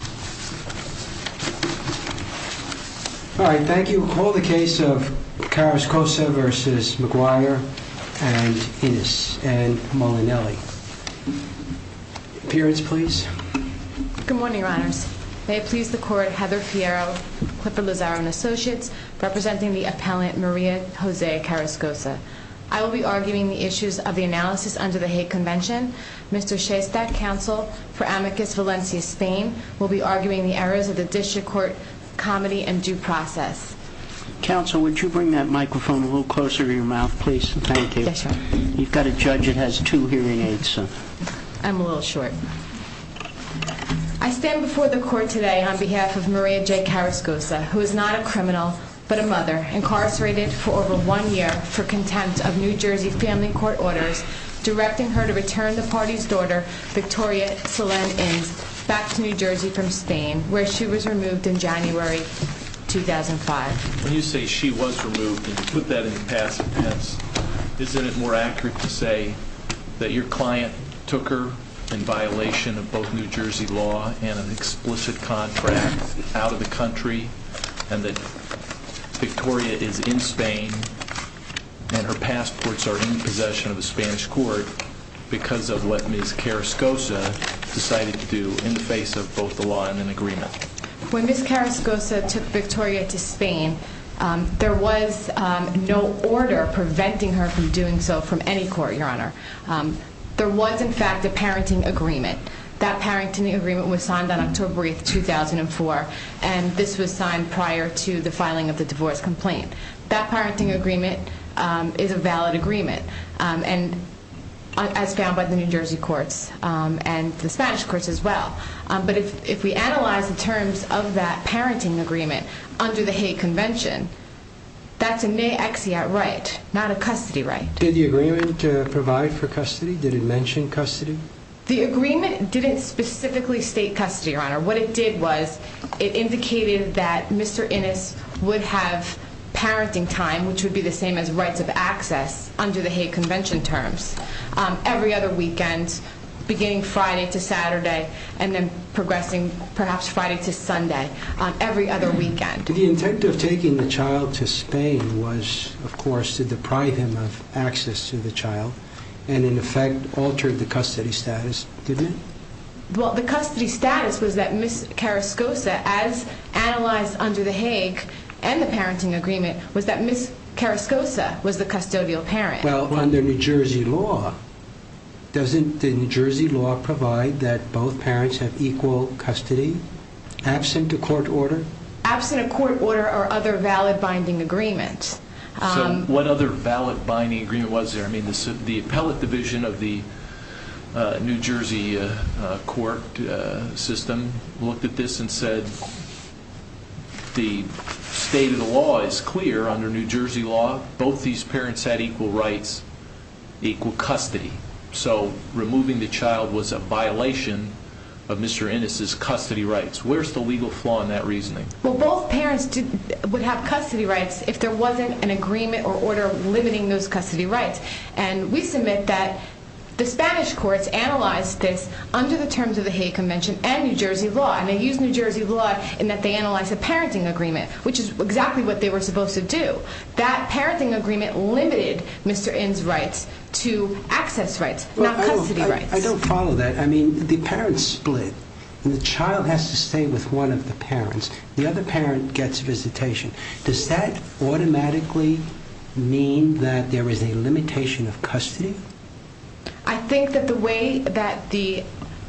and Ennis and Molinelli. Appearance, please. Good morning, Ron. May it please the Court, Heather Fierro, Clifford Lazaro and Associates, representing the appellant Maria Jose Carrascosa. I will be arguing the issues of the analysis under the Hague Convention. Mr. Shestad, counsel for Amicus Valencia Spain, will be arguing the errors of the Vicious Court comedy and due process. Counsel, would you bring that microphone a little closer to your mouth, please? Thank you. Yes, sir. You've got a judge that has two hearing aids. I'm a little short. I stand before the Court today on behalf of Maria J. Carrascosa, who is not a criminal, but a mother, incarcerated for over one year for contempt of New Jersey family court orders, directing her to return the party's daughter, Victoria Solemn, in South New Jersey from Spain, where she was removed in January 2005. When you say she was removed, and you put that in the past tense, is it more accurate to say that your client took her in violation of both New Jersey law and an explicit contract out of the country, and that Victoria is in Spain, and her passports are in possession of the Spanish court because of what Ms. Carrascosa decided to do in the face of both the law and an agreement? When Ms. Carrascosa took Victoria to Spain, there was no order preventing her from doing so from any court, Your Honor. There was, in fact, a parenting agreement. That parenting agreement was signed on October 8, 2004, and this was signed prior to the filing of the divorce complaint. That parenting agreement is a valid agreement, as found by the New Jersey courts and the Spanish courts as well. But if we analyze the terms of that parenting agreement under the Hague Convention, that's a me exe at right, not a custody right. Did the agreement provide for custody? Did it mention custody? The agreement didn't specifically state custody, Your Honor. What it did was it indicated that Mr. Innes would have parenting time, which would be the same as rights of access under the Hague Convention terms, every other weekend beginning Friday to Saturday and then progressing perhaps Friday to Sunday, every other weekend. The intent of taking the child to Spain was, of course, to deprive him of access to the child and, in effect, altered the custody status, didn't it? Well, the custody status was that Ms. Carascosa, as analyzed under the Hague and the parenting agreement, was that Ms. Carascosa was the custodial parent. Well, under New Jersey law, doesn't the New Jersey law provide that both parents have equal custody, absent a court order? Absent a court order or other valid binding agreement. So what other valid binding agreement was there? I mean, the appellate division of the New Jersey court system looked at this and said the state of the law is clear under New Jersey law, both these parents had equal rights, equal custody. So removing the child was a violation of Mr. Innes' custody rights. Where's the legal flaw in that reasoning? Well, both parents would have custody rights if there wasn't an agreement or order limiting those custody rights. And we submit that the Spanish courts analyzed this under the terms of the Hague Convention and New Jersey law. And they used New Jersey law in that they analyzed the parenting agreement, which is exactly what they were supposed to do. That parenting agreement limited Mr. Innes' rights to access rights, not custody rights. I don't follow that. I mean, the parents split. The child has to stay with one of the parents. The other parent gets visitation. Does that automatically mean that there is a limitation of custody? I think that the way that the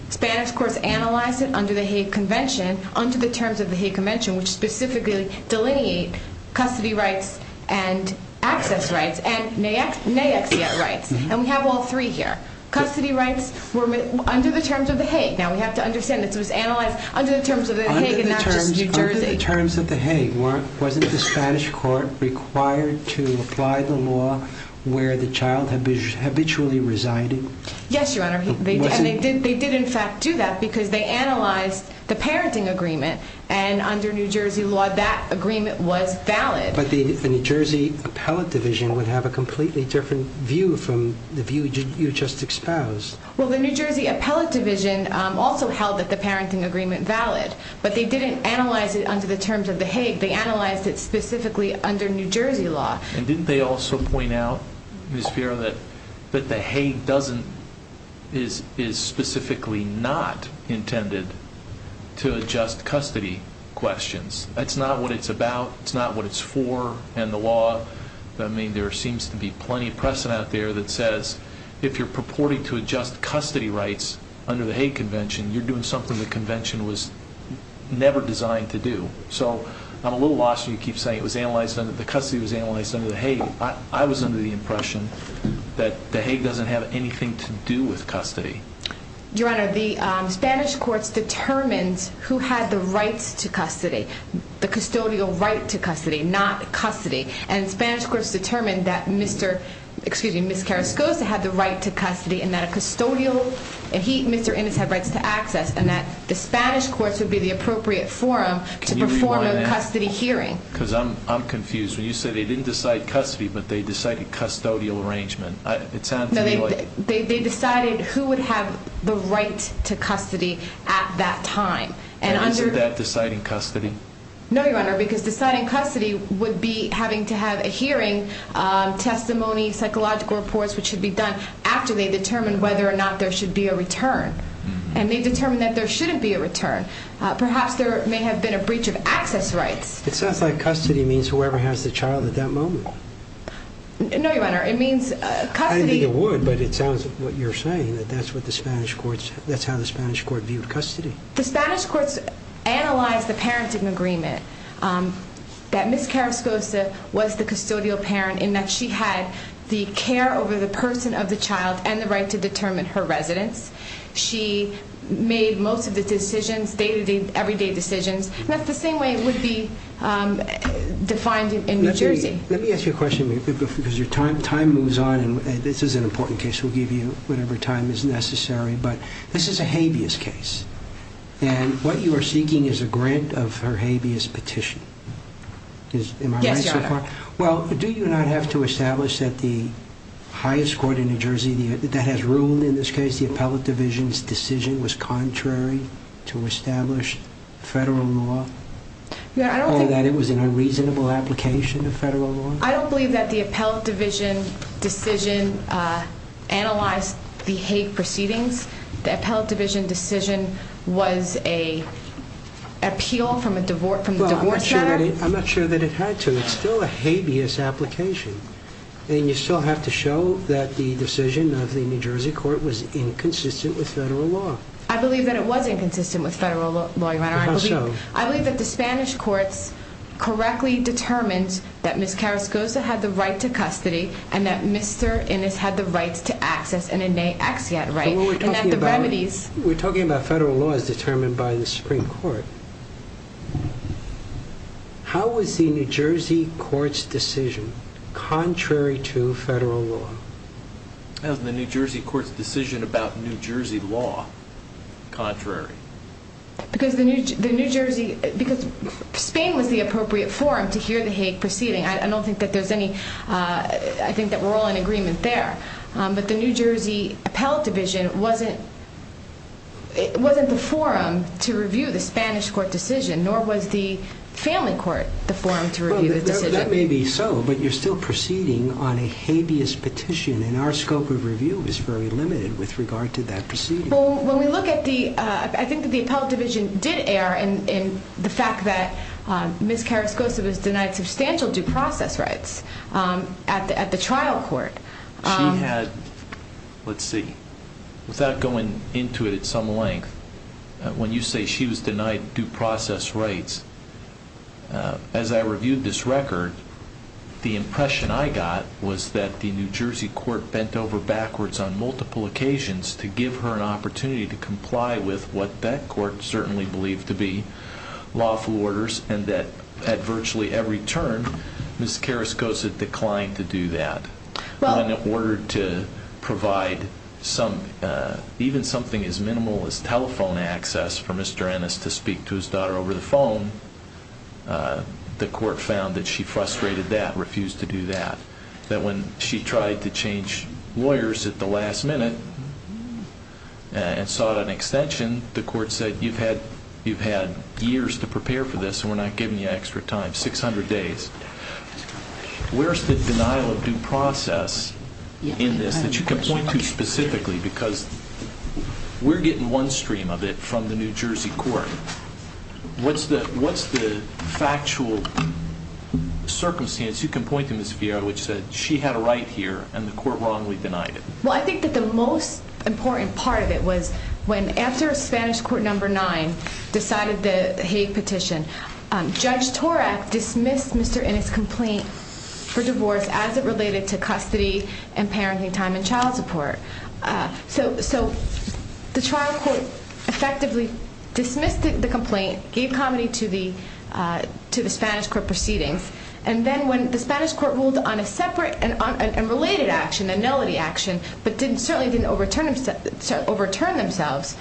Spanish courts analyzed it under the Hague Convention, under the terms of the Hague Convention, which specifically delineates custody rights and access rights and may exist rights. And we have all three here. Custody rights were under the terms of the Hague. Now, we have to understand that this was analyzed under the terms of the Hague and not just New Jersey. Under the terms of the Hague, wasn't the Spanish court required to apply the law where the child habitually resided? Yes, Your Honor. And they did, in fact, do that because they analyzed the parenting agreement. And under New Jersey law, that agreement was valid. But the New Jersey Appellate Division would have a completely different view from the view you just exposed. Well, the New Jersey Appellate Division also held that the parenting agreement valid, but they didn't analyze it under the terms of the Hague. They analyzed it specifically under New Jersey law. And didn't they also point out, Ms. Fiorillo, that the Hague is specifically not intended to adjust custody questions? That's not what it's about. It's not what it's for in the law. I mean, there seems to be plenty of precedent out there that says, if you're purporting to adjust custody rights under the Hague Convention, you're doing something the Convention was never designed to do. So I'm a little lost. You keep saying the custody was analyzed under the Hague. I was under the impression that the Hague doesn't have anything to do with custody. Your Honor, the Spanish courts determined who had the right to custody, the custodial right to custody, not custody. And Spanish courts determined that Ms. Carrascoza had the right to custody and that Mr. Emmons had rights to access, and that the Spanish courts would be the appropriate forum to perform a custody hearing. Because I'm confused. When you say they didn't decide custody, but they decided custodial arrangement. They decided who would have the right to custody at that time. And under that deciding custody? No, Your Honor, because deciding custody would be having to have a hearing, testimony, psychological reports, which should be done after they determine whether or not there should be a return. And they determined that there shouldn't be a return. Perhaps there may have been a breach of access rights. It sounds like custody means whoever has the child at that moment. No, Your Honor, it means custody... I mean it would, but it sounds like what you're saying, that that's what the Spanish courts, that's how the Spanish courts viewed custody. The Spanish courts analyzed the parenting agreement, that Ms. Carrascoza was the custodial parent and that she had the care over the person of the child and the right to determine her residence. She made most of the decisions, day-to-day, everyday decisions. That's the same way it would be defined in New Jersey. Let me ask you a question, because your time moves on, and this is an important case, we'll give you whenever time is necessary, but this is a habeas case, and what you are seeking is a grant of her habeas petition. Yes, Your Honor. Well, do you not have to establish that the highest court in New Jersey that has ruled in this case, the appellate division's decision was contrary to established federal law? Or that it was an unreasonable application of federal law? I don't believe that the appellate division's decision analyzed the hate proceedings. The appellate division's decision was an appeal from a divorce... I'm not sure that it had to. It's still a habeas application, and you still have to show that the decision of the New Jersey court was inconsistent with federal law. I believe that it was inconsistent with federal law, Your Honor. How so? I believe that the Spanish court correctly determined that Ms. Carrascoza had the right to custody and that Mr. Ennis had the right to access an innate axiate right. We're talking about federal law as determined by the Supreme Court. How is the New Jersey court's decision contrary to federal law? How is the New Jersey court's decision about New Jersey law contrary? Because Spain was the appropriate forum to hear the hate proceeding. I don't think that there's any... I think that we're all in agreement there. But the New Jersey appellate division wasn't the forum to review the Spanish court decision, nor was the family court the forum to review the decision. That may be so, but you're still proceeding on a habeas petition, and our scope of review is very limited with regard to that proceeding. Well, when we look at the... I think that the appellate division did err in the fact that Ms. Carrascoza was denied substantial due process rights at the trial court. She had, let's see, without going into it at some length, when you say she was denied due process rights, as I reviewed this record, the impression I got was that the New Jersey court bent over backwards on multiple occasions to give her an opportunity to comply with what that court certainly believed to be lawful orders, and that at virtually every turn, Ms. Carrascoza declined to do that. When ordered to provide even something as minimal as telephone access for Mr. Ennis to speak to his daughter over the phone, the court found that she frustrated that, refused to do that. That when she tried to change lawyers at the last minute and sought an extension, the court said, you've had years to prepare for this, and we're not giving you extra time, 600 days. Where's the denial of due process in this that you can point to specifically? Because we're getting one stream of it from the New Jersey court. What's the factual circumstance you can point to, Ms. Villegas, which said she had a right here and the court wrongly denied it? Well, I think that the most important part of it was when, after Spanish Court No. 9 decided the Hague petition, Judge Torres dismissed Mr. Ennis' complaint for divorce as it related to custody and parenting time and child support. So the trial court effectively dismissed the complaint, gave comedy to the Spanish court proceedings, and then when the Spanish court ruled on a separate and related action, a nullity action, but certainly didn't overturn themselves,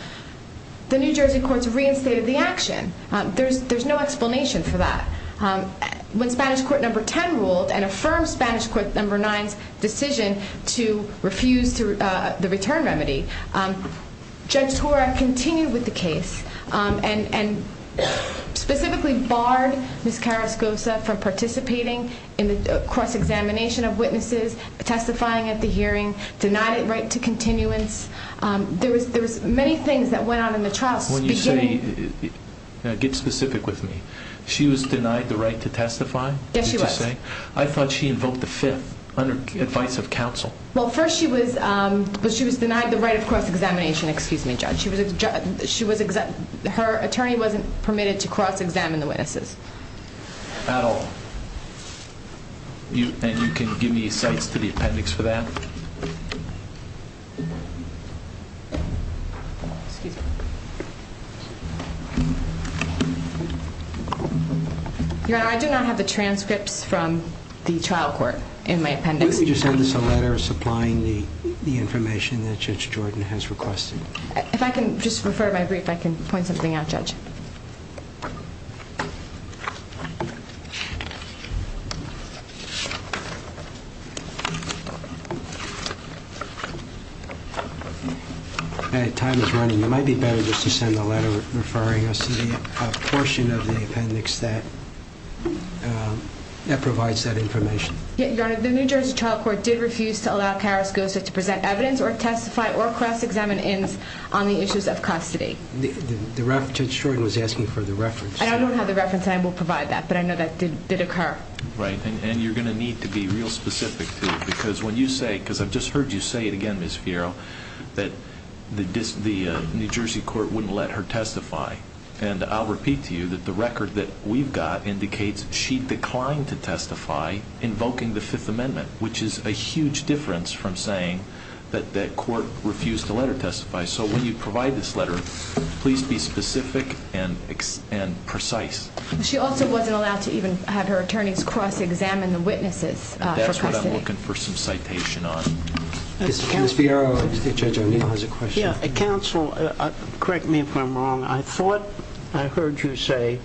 the New Jersey courts reinstated the action. There's no explanation for that. When Spanish Court No. 10 ruled and affirmed Spanish Court No. 9's decision to refuse the return remedy, Judge Torres continued with the case and specifically barred Ms. Carrascoza from participating in this cross-examination of witnesses, testifying at the hearing, denied a right to continuance. There were many things that went on in the trial. When you say, get specific with me. She was denied the right to testify? Yes, she was. I thought she invoked the Fifth under advice of counsel. Well, first she was denied the right of cross-examination. Excuse me, Judge. Her attorney wasn't permitted to cross-examine the witnesses. Al, you can give me the appendix for that. Your Honor, I do not have a transcript from the trial court in my appendix. Could you send us a letter supplying the information that Judge Jordan has requested? If I can just refer my brief, I can point something out, Judge. All right, time is running. It might be better just to send a letter referring us to a portion of the appendix that provides that information. Your Honor, the New Jersey trial court did refuse to allow Carrascoza to present evidence or testify or cross-examine in on the issues of custody. Judge Jordan was asking for the reference. I don't have the reference, and I will provide that, but I know that did occur. Right, and you're going to need to be real specific to it because when you say it, because I've just heard you say it again, Ms. Piero, that the New Jersey court wouldn't let her testify. And I'll repeat to you that the record that we've got indicates she declined to testify invoking the Fifth Amendment, which is a huge difference from saying that the court refused to let her testify. So when you provide this letter, please be specific and precise. She also wasn't allowed to even have her attorneys cross-examine the witnesses. That's what I'm looking for some citation on. Ms. Piero, Judge O'Neill has a question. Counsel, correct me if I'm wrong. I thought I heard you say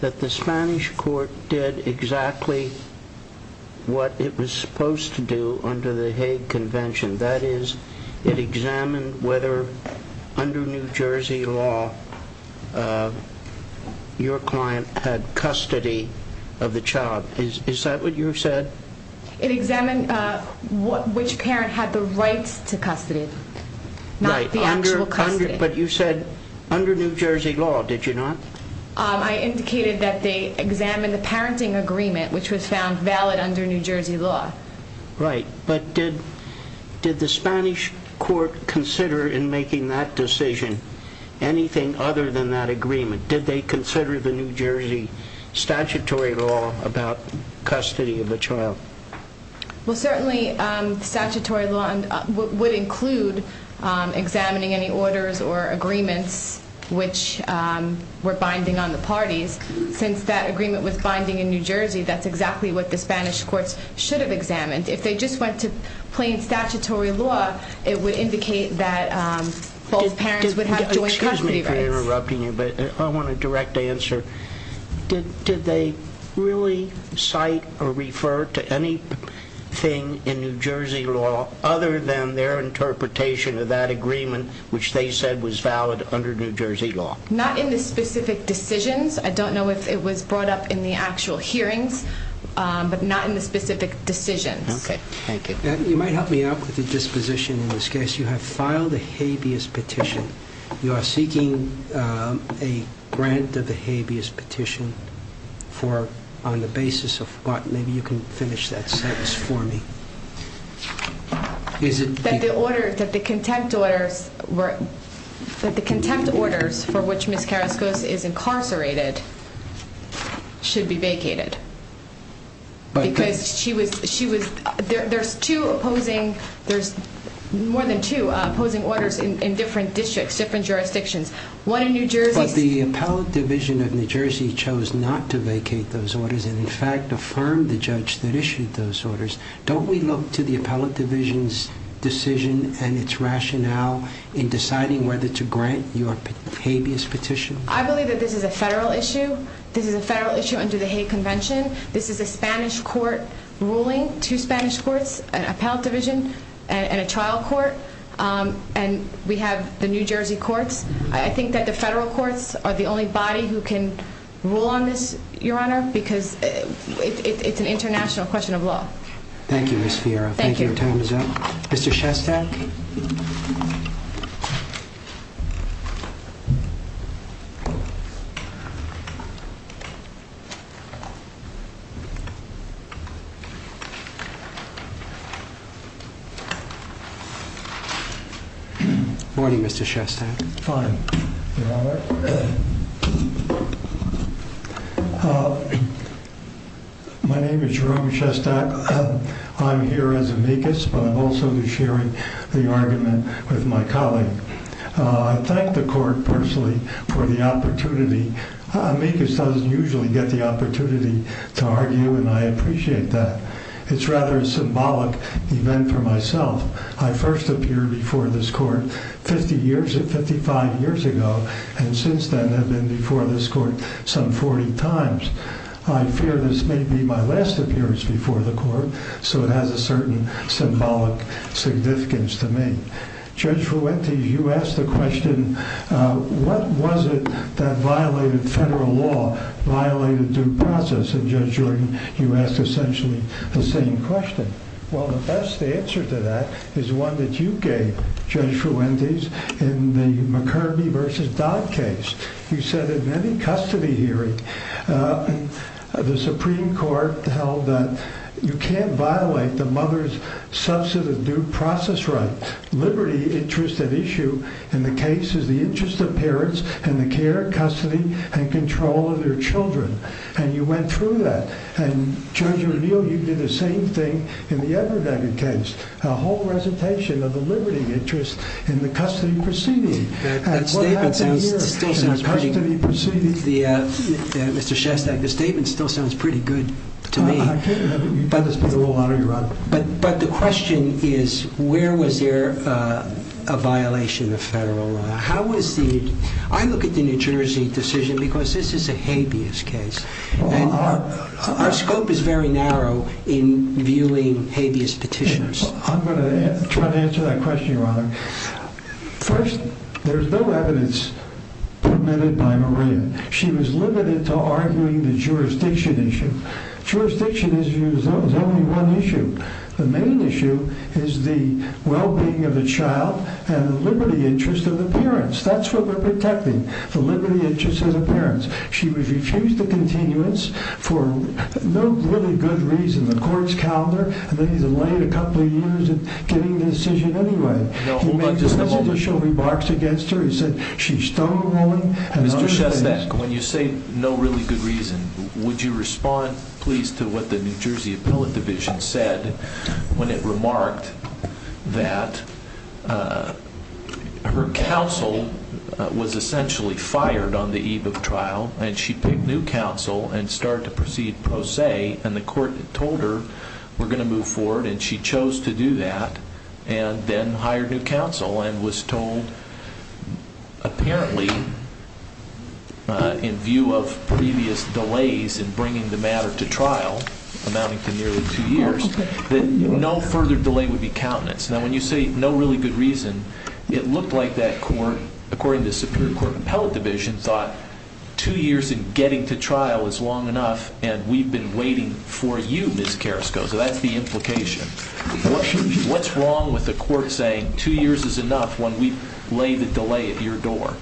that the Spanish court did exactly what it was supposed to do under the Hague Convention. That is, it examined whether under New Jersey law your client had custody of the child. Is that what you said? It examined which parent had the rights to custody, not the actual custody. But you said under New Jersey law, did you not? I indicated that they examined the parenting agreement, which was found valid under New Jersey law. Right. But did the Spanish court consider in making that decision anything other than that agreement? Did they consider the New Jersey statutory law about custody of the child? Well, certainly statutory law would include examining any orders or agreements which were binding on the parties. Since that agreement was binding in New Jersey, that's exactly what the Spanish court should have examined. If they just went to plain statutory law, it would indicate that both parents would have to have custody rights. Excuse me for interrupting you, but I want a direct answer. Did they really cite or refer to anything in New Jersey law other than their interpretation of that agreement, which they said was valid under New Jersey law? Not in the specific decisions. I don't know if it was brought up in the actual hearings, but not in the specific decisions. Okay. Thank you. You might help me out with the disposition in this case. You have filed a habeas petition. You are seeking a grant of the habeas petition on the basis of what? Maybe you can finish that sentence for me. That the contempt orders for which Ms. Carrasco is incarcerated should be vacated. There are more than two opposing orders in different districts, different jurisdictions. The appellate division of New Jersey chose not to vacate those orders and, in fact, affirmed the judge that issued those orders. Don't we look to the appellate division's decision and its rationale in deciding whether to grant your habeas petition? I believe that this is a federal issue. This is a federal issue under the Hague Convention. This is a Spanish court ruling, two Spanish courts, an appellate division and a trial court, and we have the New Jersey courts. I think that the federal courts are the only body who can rule on this, Your Honor, because it's an international question of law. Thank you, Ms. Fiera. Thank you. Thank you. Your time is up. Mr. Shestak? Good morning, Mr. Shestak. Good morning, Your Honor. My name is Jerome Shestak. I'm here as amicus, but I'm also going to be sharing the argument with my colleague. I thank the court personally for the opportunity. Amicus doesn't usually get the opportunity to argue, and I appreciate that. It's rather a symbolic event for myself. I first appeared before this court 50 years, 55 years ago, and since then I've been before this court some 40 times. I fear this may be my last appearance before the court, so it has a certain symbolic significance to me. Judge Fuentes, you asked the question, what was it that violated federal law, violated due process, and Judge Jordan, you asked essentially the same question. Well, the best answer to that is one that you gave, Judge Fuentes, in the McCurdy v. Dodd case. You said in any custody hearing, the Supreme Court held that you can't violate the mother's substantive due process right. Liberty, interest, and issue in the case is the interest of parents and the care, custody, and control of their children, and you went through that. And, Judge O'Neill, you did the same thing in the other Dodd case. A whole recitation of the liberty, interest, and the custody proceeding. The statement still sounds pretty good. The custody proceeding. Mr. Shestad, the statement still sounds pretty good to me. You've done this for a long time, Your Honor. But the question is, where was there a violation of federal law? How was the, I look at the New Jersey decision because this is a habeas case. Our scope is very narrow in viewing habeas petitions. I'm going to try to answer that question, Your Honor. First, there's no evidence permitted by Maria. She was limited to arguing the jurisdiction issue. Jurisdiction issue is only one issue. The main issue is the well-being of the child and the liberty interest of the parents. That's what we're protecting, the liberty interest of the parents. She refused to continue this for no really good reason. The court's calendar may be delayed a couple of years in getting the decision anyway. He made the initial remarks against her. He said, she's thrown away. Mr. Shestad, when you say no really good reason, would you respond please to what the New Jersey Appellate Division said when it remarked that her counsel was essentially fired on the eve of trial and she picked new counsel and started to proceed pro se, and the court told her we're going to move forward and she chose to do that and then hired new counsel and was told, apparently, in view of previous delays in bringing the matter to trial, amounting to nearly two years, that no further delay would be counted. Now, when you say no really good reason, it looked like that court, according to the Supreme Court Appellate Division, thought two years in getting to trial is long enough and we've been waiting for you, Ms. Carrasco. So that's the implication. What's wrong with the court saying two years is enough when we've laid a delay at your door?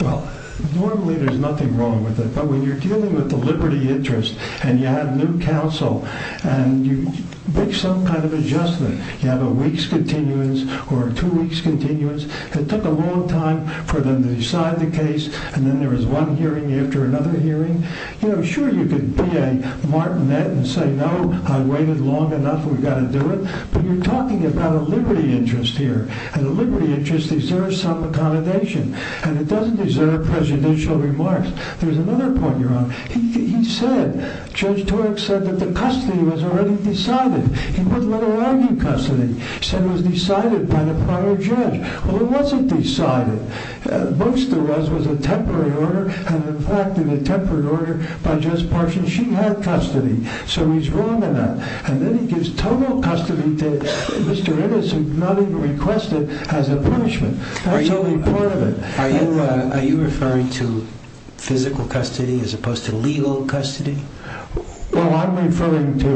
Well, normally there's nothing wrong with it, but when you're dealing with the liberty interest and you have new counsel and you make some kind of adjustment, you have a week's continuance or a two week's continuance, it took a long time for them to decide the case and then there was one hearing after another hearing, you know, sure you could be a martinet and say, no, I've waited long enough, we've got to do it, but you're talking about a liberty interest here, and a liberty interest deserves some accommodation, and it doesn't deserve presidential remarks. There's another point you're on. He said, Judge Torek said that the custody was already decided. He wasn't going to argue custody. He said it was decided by the prior judge. Well, it wasn't decided. Most of it was a temporary order, and in fact in the temporary order by Judge Parsons, she had custody. So he's wrong on that. And then he gives total custody to Mr. Innis, who's not even requested, as a punishment. That's only part of it. Are you referring to physical custody as opposed to legal custody? Well, I'm referring to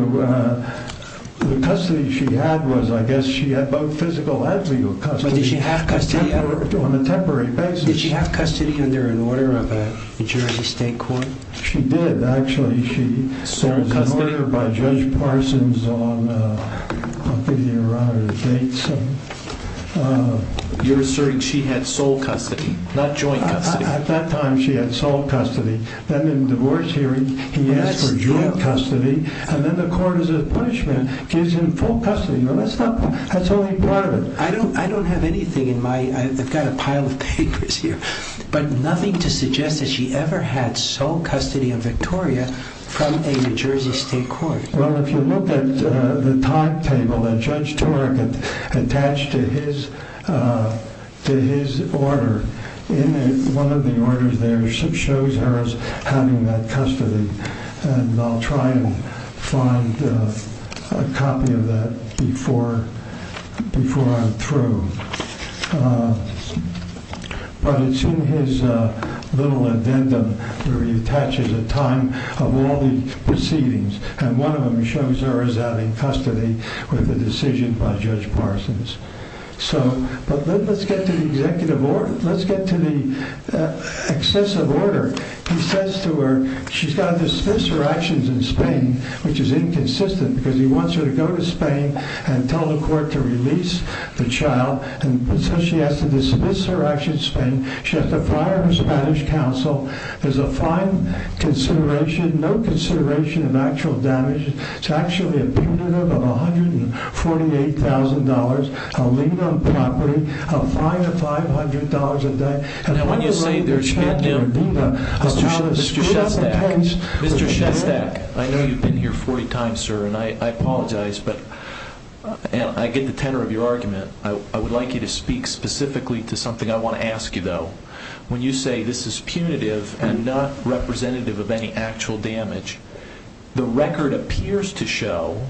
the custody she had was, I guess, she had both physical and legal custody. Did she have custody? On a temporary basis. Did she have custody under an order of the Jersey State Court? She did, actually. She served an order by Judge Parsons on, I'm thinking of Robert J. Inns. You're asserting she had sole custody, not joint custody. At that time, she had sole custody. Then in the court's hearing, he asked for joint custody, and then the court, as a punishment, gives him full custody. That's only part of it. I don't have anything in my, I've got a pile of papers here, but nothing to suggest that she ever had sole custody of Victoria from a Jersey State Court. Well, if you look at the talk table that Judge Tarrigan attached to his order, in one of the orders there, she shows her as having that custody, and I'll try to find a copy of that before I'm through. But it's in his little addendum where he attaches a time of all the proceedings, and one of them shows her as having custody of the decision by Judge Parsons. So, but let's get to the executive order. Let's get to the excessive order. He says to her, she's got to dismiss her actions in Spain, which is inconsistent because he wants her to go to Spain and tell the court to release the child, and so she has to dismiss her actions in Spain. She has to prior her Spanish counsel. There's a fine consideration, no consideration of actual damages. It's actually a punitive of $148,000. I'll leave it on property. I'll fine her $500 a day. And I want to state there's chance for Viva. I promise. Mr. Shepnick. Mr. Shepnick. I know you've been here 40 times, sir, and I apologize, but I get the tenor of your argument. I would like you to speak specifically to something I want to ask you, though. When you say this is punitive and not representative of any actual damage, the record appears to show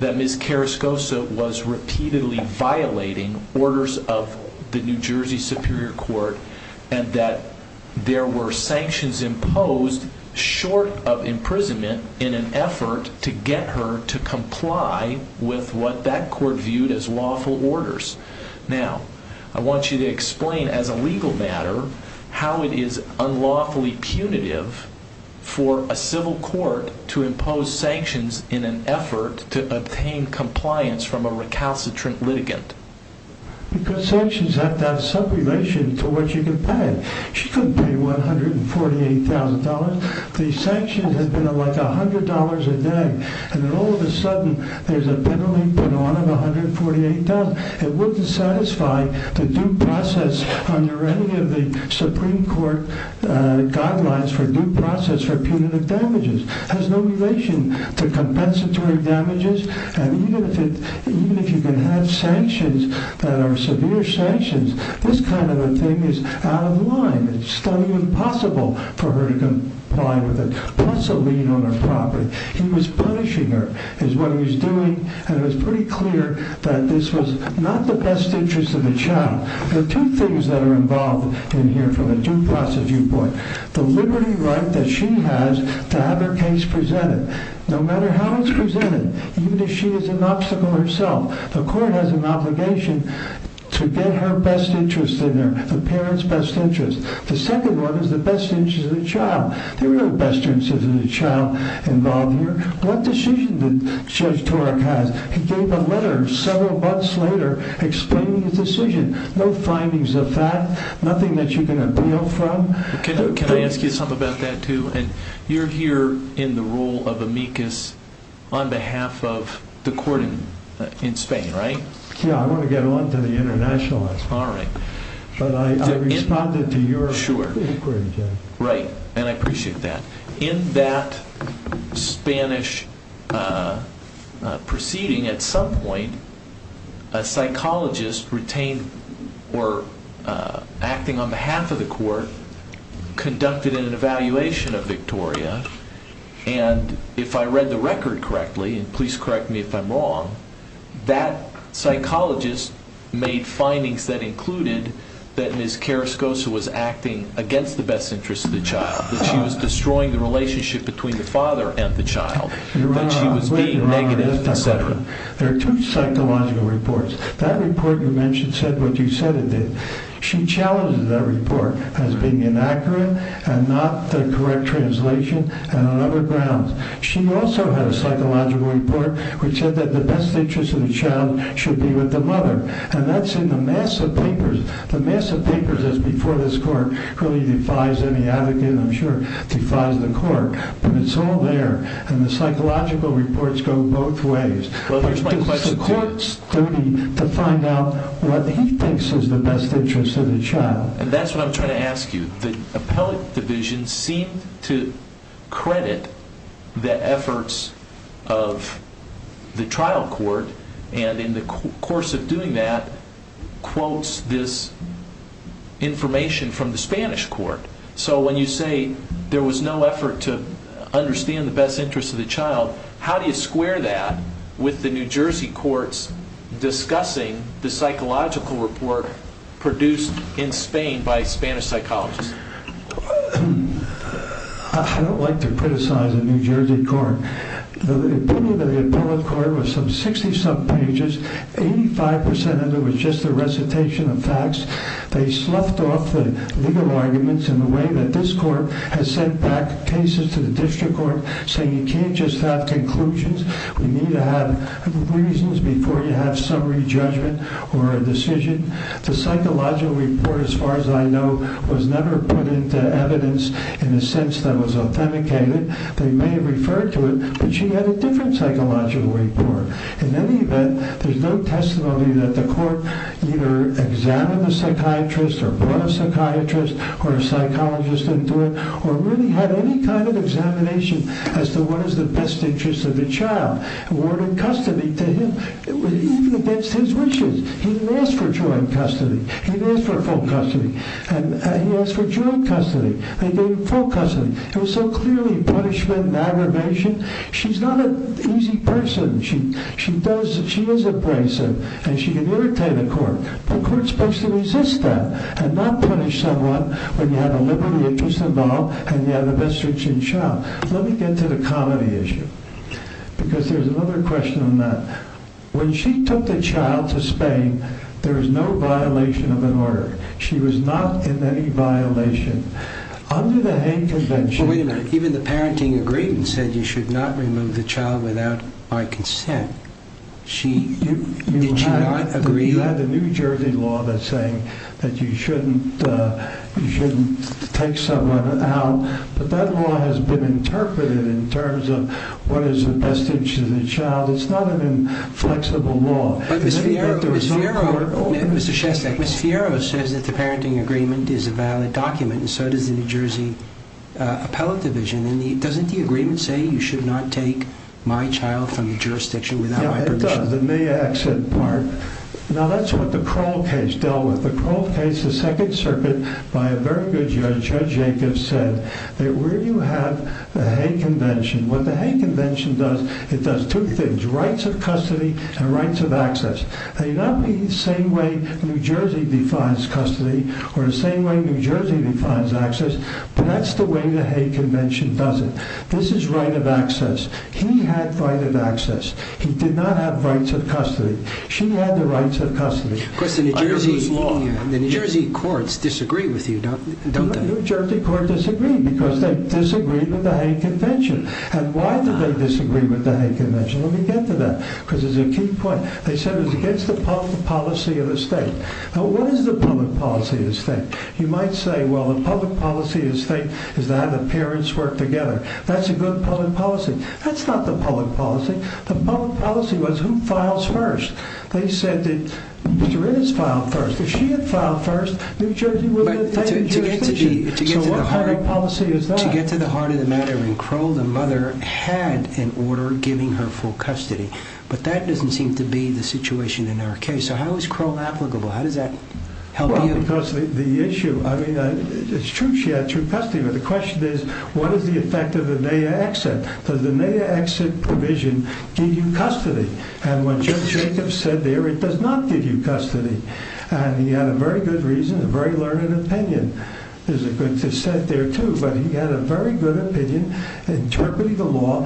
that Ms. Carascosa was repeatedly violating orders of the New Jersey Superior Court and that there were sanctions imposed short of imprisonment in an effort to get her to comply with what that court viewed as lawful orders. Now, I want you to explain as a legal matter how it is unlawfully punitive for a civil court to impose sanctions in an effort to obtain compliance from a recalcitrant litigant. Because sanctions have to have some relation to what you can pay. She couldn't pay $148,000. These sanctions have been worth $100 a day, and then all of a sudden there's a penalty put on them, $148,000. It wouldn't satisfy the due process under any of the Supreme Court guidelines for due process for punitive damages. It has no relation to compensatory damages, and even if you can have sanctions that are severe sanctions, this kind of a thing is out of line. It's totally impossible for her to comply with it, plus a lien on her property. He was punishing her is what he was doing, and it was pretty clear that this was not the best interest of the child. There are two things that are involved in here from a due process viewpoint. The liberty right that she has to have her case presented, no matter how it's presented, even if she is an obstacle herself, the court has an obligation to get her best interest in there, the parent's best interest. The second one is the best interest of the child. There are best interests of the child involved here. What decision did Judge Torek have? He gave a letter several months later explaining the decision. No findings of that, nothing that you can appeal from. Can I ask you something about that, too? You're here in the rule of amicus on behalf of the court in Spain, right? Yeah, I'm going to get on to the International Act. All right. But I responded to your inquiry, Judge. Right, and I appreciate that. In that Spanish proceeding at some point, a psychologist retained or acting on behalf of the court conducted an evaluation of Victoria, and if I read the record correctly, and please correct me if I'm wrong, that psychologist made findings that included that Ms. Carascosa was acting against the best interest of the child, that she was destroying the relationship between the father and the child. You're wrong. That she was being negative, et cetera. There are two psychological reports. That report you mentioned said what you said it did. She challenged that report as being inaccurate and not the correct translation and on other grounds. She also had a psychological report which said that the best interest of the child should be with the mother, and that's in the NASA papers. The NASA papers is before this court really defies any argument, I'm sure, defies the court. But it's all there, and the psychological reports go both ways. Well, there's my question. The court's duty to find out what he thinks is the best interest of the child. That's what I'm trying to ask you. The appellate division seemed to credit the efforts of the trial court, and in the course of doing that quotes this information from the Spanish court. So when you say there was no effort to understand the best interest of the child, how do you square that with the New Jersey courts discussing the psychological report produced in Spain by Spanish psychologists? I don't like to criticize the New Jersey court. The opinion of the appellate court was some 60-some pages, 85% of it was just a recitation of facts. They sloughed off the legal arguments in the way that this court has sent back cases to the district court, saying you can't just have conclusions. You need to have reasons before you have summary judgment or a decision. The psychological report, as far as I know, was never put into evidence in the sense that it was authenticated. They may have referred to it, but she had a different psychological report. In any event, there's no testimony that the court either examined the psychiatrist or brought a psychiatrist or a psychologist into it or really had any kind of examination as to what is the best interest of the child. Awarded custody to him. It was even against his wishes. He didn't ask for joint custody. He asked for full custody, and he asked for joint custody, and then full custody. It was so clearly punishment and aggravation. She's not an easy person. The court is supposed to resist that and not punish someone when you have a liberal interest involved and you have a best interest in the child. Let me get to the comedy issue, because there's another question on that. When she took the child to Spain, there was no violation of an order. She was not in any violation. Under the Hague Convention... Wait a minute. Even the parenting agreement said you should not remove the child without my consent. Did she not agree? You have a New Jersey law that's saying that you shouldn't take someone out. But that law has been interpreted in terms of what is the best interest of the child. It's not an inflexible law. But Ms. Fiero says that the parenting agreement is a valid document, and so does the New Jersey appellate division. Doesn't the agreement say you should not take my child from the jurisdiction without my permission? It does, in the accident part. Now, that's what the Kroll case dealt with. The Kroll case, the Second Circuit, by a very good judge, Judge Jacobs, said that where you have the Hague Convention... What the Hague Convention does, it does two things. Rights of custody and rights of access. Now, you're not making the same way New Jersey defines custody or the same way New Jersey defines access. But that's the way the Hague Convention does it. This is right of access. He had right of access. He did not have rights of custody. She had the rights of custody. New Jersey courts disagree with you, don't they? New Jersey courts disagree, because they disagree with the Hague Convention. And why do they disagree with the Hague Convention? Let me get to that, because it's a key point. They said it's against the public policy of the state. Now, what is the public policy of the state? You might say, well, the public policy of the state is that the parents work together. That's a good public policy. That's not the public policy. The public policy was who files first. They said that Mr. Innes filed first. If she had filed first, New Jersey would have taken custody. So what kind of policy is that? To get to the heart of the matter, when Kroll, the mother, had an order giving her full custody. But that doesn't seem to be the situation in our case. So how is Kroll applicable? How does that help you with the issue? I mean, it's true she had true custody. But the question is, what is the effect of a NAIA exit? Does a NAIA exit provision give you custody? And what Judge Jacobs said there, it does not give you custody. And he had a very good reason, a very learned opinion. There's a good cassette there, too. But he had a very good opinion interpreting the law.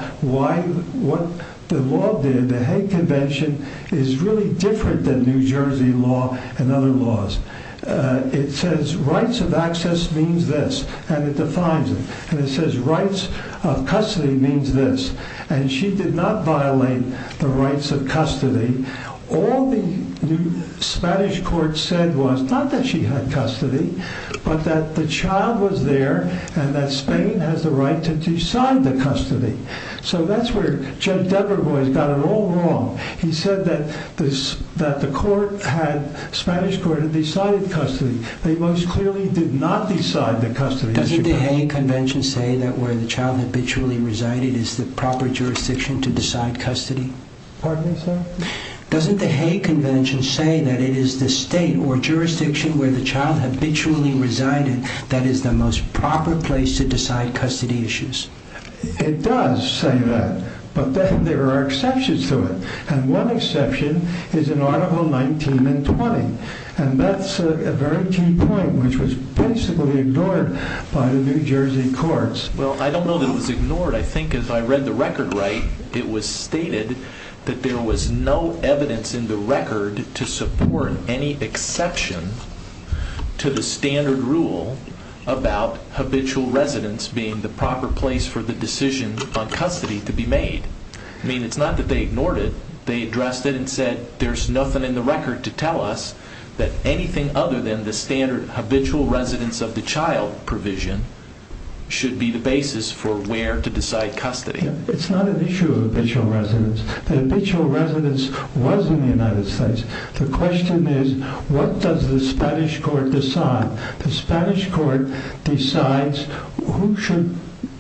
The law there, the Hague Convention, is really different than New Jersey law and other laws. It says rights of access means this. And it defines it. And it says rights of custody means this. And she did not violate the rights of custody. All the Spanish court said was not that she had custody, but that the child was there and that Spain has the right to decide the custody. So that's where Judge Devereux has done it all wrong. He said that the Spanish court had decided custody. They most clearly did not decide the custody. Doesn't the Hague Convention say that where the child habitually resided is the proper jurisdiction to decide custody? Pardon me, sir? Doesn't the Hague Convention say that it is the state or jurisdiction where the child habitually resided that is the most proper place to decide custody issues? It does say that. But then there are exceptions to it. And one exception is in Article 19 and 20. And that's a very key point which was basically ignored by the New Jersey courts. Well, I don't know that it was ignored. I think if I read the record right, it was stated that there was no evidence in the record to support any exception to the standard rule about habitual residence being the proper place for the decision on custody to be made. I mean, it's not that they ignored it. They addressed it and said there's nothing in the record to tell us that anything other than the standard habitual residence of the child provision should be the basis for where to decide custody. It's not an issue of habitual residence. The habitual residence was in the United States. The question is what does the Spanish court decide? The Spanish court decides who should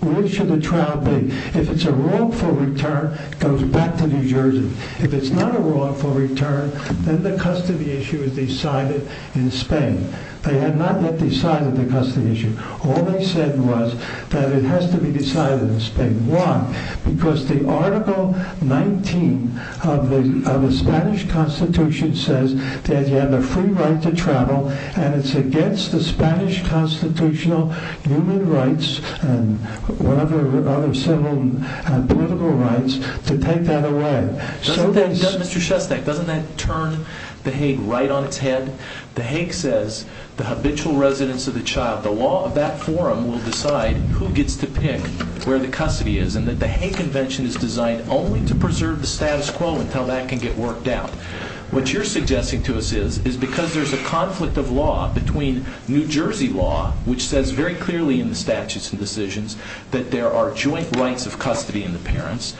the child be. If it's a wrongful return, it goes back to New Jersey. If it's not a wrongful return, then the custody issue is decided in Spain. They have not yet decided the custody issue. All they said was that it has to be decided in Spain. Why? Because the Article 19 of the Spanish Constitution says that you have a free right to travel, and it's against the Spanish constitutional human rights and whatever other civil and political rights to take that away. Mr. Shostak, doesn't that turn the Hague right on its head? The Hague says the habitual residence of the child, the law of that forum, will decide who gets to pick where the custody is and that the Hague Convention is designed only to preserve the status quo and how that can get worked out. What you're suggesting to us is because there's a conflict of law between New Jersey law, which says very clearly in the statutes and decisions that there are joint rights of custody in the parents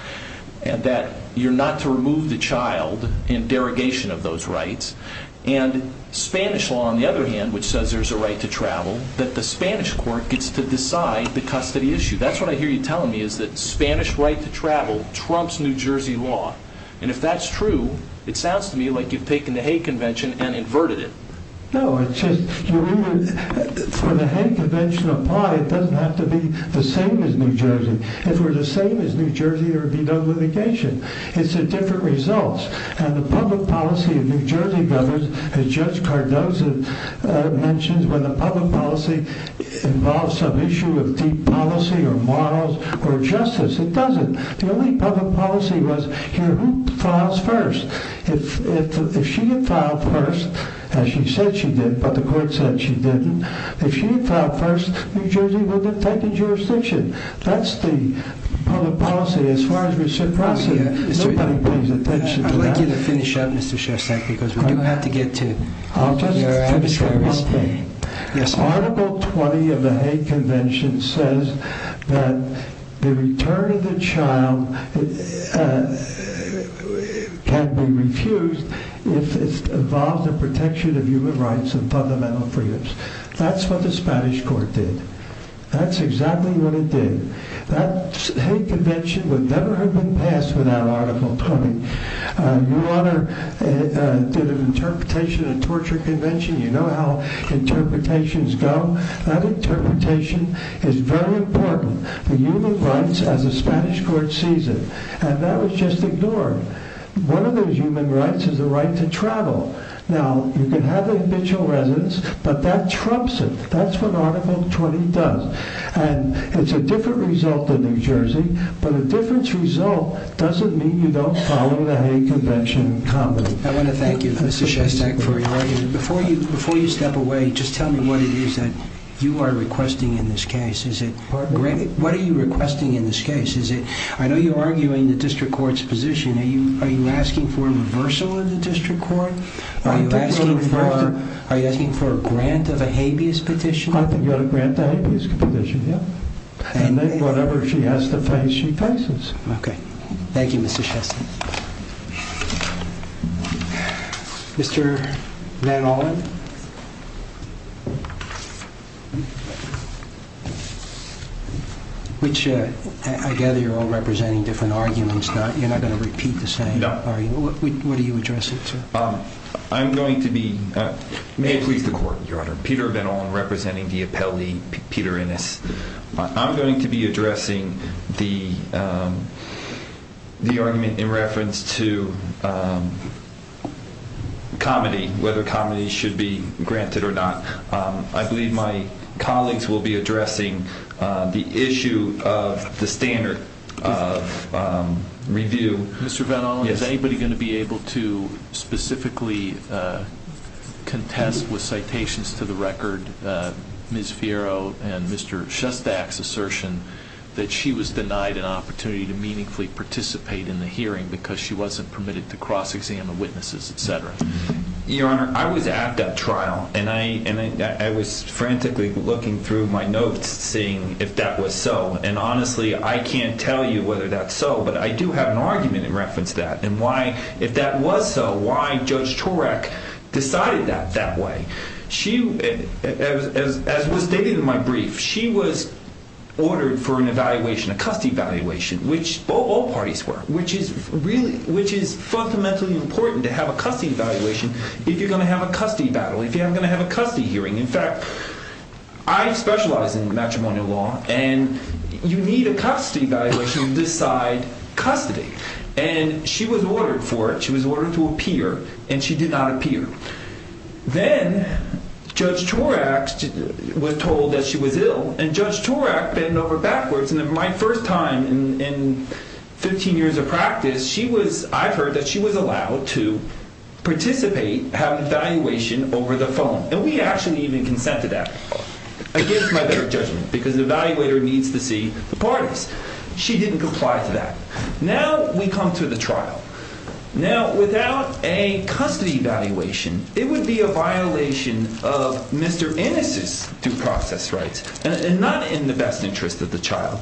and that you're not to remove the child in derogation of those rights, and Spanish law, on the other hand, which says there's a right to travel, that the Spanish court gets to decide the custody issue. That's what I hear you telling me, is that the Spanish right to travel trumps New Jersey law. And if that's true, it sounds to me like you've taken the Hague Convention and inverted it. No, it's just that for the Hague Convention to apply, it doesn't have to be the same as New Jersey. If it were the same as New Jersey, there would be no litigation. It's a different result. And the public policy of New Jersey government, as Judge Cardozo mentions, when the public policy involves some issue of deep policy or morals or justice, it doesn't. The only public policy was who files first. If she had filed first, and she said she did, but the court said she didn't, if she had filed first, New Jersey would have taken jurisdiction. That's the public policy as far as we're surprised at. I'd like you to finish up, Mr. Shostak, because we've got to get to your address. Article 20 of the Hague Convention says that the return of the child can be refused if it involves the protection of human rights and fundamental freedoms. That's what the Spanish court did. That's exactly what it did. That Hague Convention would never have been passed without Article 20. Your Honor did an interpretation of the Torture Convention. You know how interpretations go. That interpretation is very important for human rights as the Spanish court sees it. And that was just ignored. One of those human rights is the right to travel. Now, you can have individual residence, but that trumps it. That's what Article 20 does. It's a different result than New Jersey, but a different result doesn't mean you don't follow the Hague Convention properly. I want to thank you, Mr. Shostak, for your argument. Before you step away, just tell me what it is that you are requesting in this case. What are you requesting in this case? I know you're arguing the district court's position. Are you asking for a reversal of the district court? Are you asking for a grant of a habeas petition? I'm asking for a grant of a habeas petition, yes. And whatever she has to pay, she pays it. Okay. Thank you, Mr. Shostak. Mr. Van Ollen? I gather you're all representing different arguments. You're not going to repeat the same argument. What are you addressing? I'm going to be—may I please report, Your Honor? I'm Peter Van Ollen, representing the appellee, Peter Innes. I'm going to be addressing the argument in reference to comedy, whether comedy should be granted or not. I believe my colleagues will be addressing the issue of the standard of review. Mr. Van Ollen, is anybody going to be able to specifically contest with citations to the record Ms. Fiero and Mr. Shostak's assertion that she was denied an opportunity to meaningfully participate in the hearing because she wasn't permitted to cross-examine witnesses, et cetera? Your Honor, I was at that trial, and I was frantically looking through my notes, seeing if that was so. Honestly, I can't tell you whether that's so, but I do have an argument in reference to that. If that was so, why Judge Turek decided that that way? As was stated in my brief, she was ordered for an evaluation, a custody evaluation, which all parties were, which is fundamentally important to have a custody evaluation if you're going to have a custody battle, if you're going to have a custody hearing. In fact, I specialize in matrimonial law, and you need a custody evaluation to decide custody. And she was ordered for it. She was ordered to appear, and she did not appear. Then Judge Turek was told that she was ill, and Judge Turek bent over backwards. And for my first time in 15 years of practice, I heard that she was allowed to participate, have an evaluation over the phone. And we actually even consented to that, against my better judgment, because the evaluator needs to see the parties. She didn't comply to that. Now we come to the trial. Now, without a custody evaluation, it would be a violation of Mr. Ennis's due process rights, and not in the best interest of the child.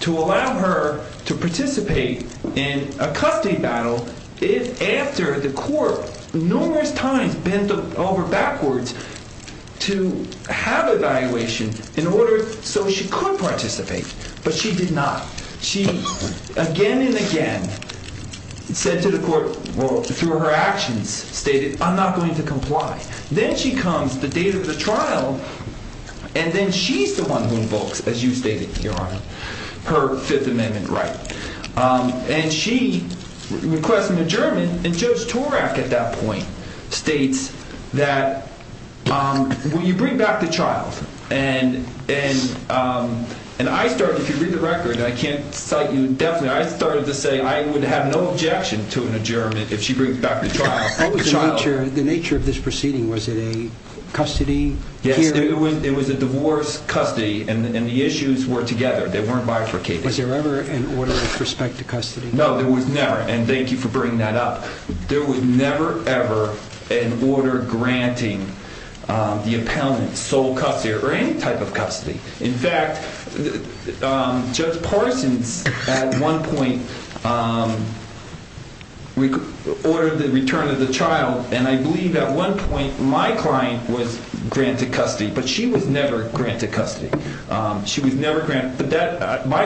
To allow her to participate in a custody battle is after the court numerous times bent over backwards to have evaluation in order so she could participate. But she did not. She again and again said to the court, through her actions, stated, I'm not going to comply. Then she comes, the date of the trial, and then she's the one who invokes, as you stated, Your Honor, her Fifth Amendment right. And she requested an adjournment, and Judge Turek at that point states that, when you bring back the child, and I started to read the record, I can't cite you indefinitely, I started to say I would have no objection to an adjournment if she brings back the child. What was the nature of this proceeding? Was it a custody hearing? It was a divorce custody, and the issues were together. They weren't bifurcated. Was there ever an order with respect to custody? No, there was never, and thank you for bringing that up. There was never, ever an order granting the appellant sole custody or any type of custody. In fact, Judge Parsons at one point ordered the return of the child, and I believe at one point my client was granted custody, but she was never granted custody. My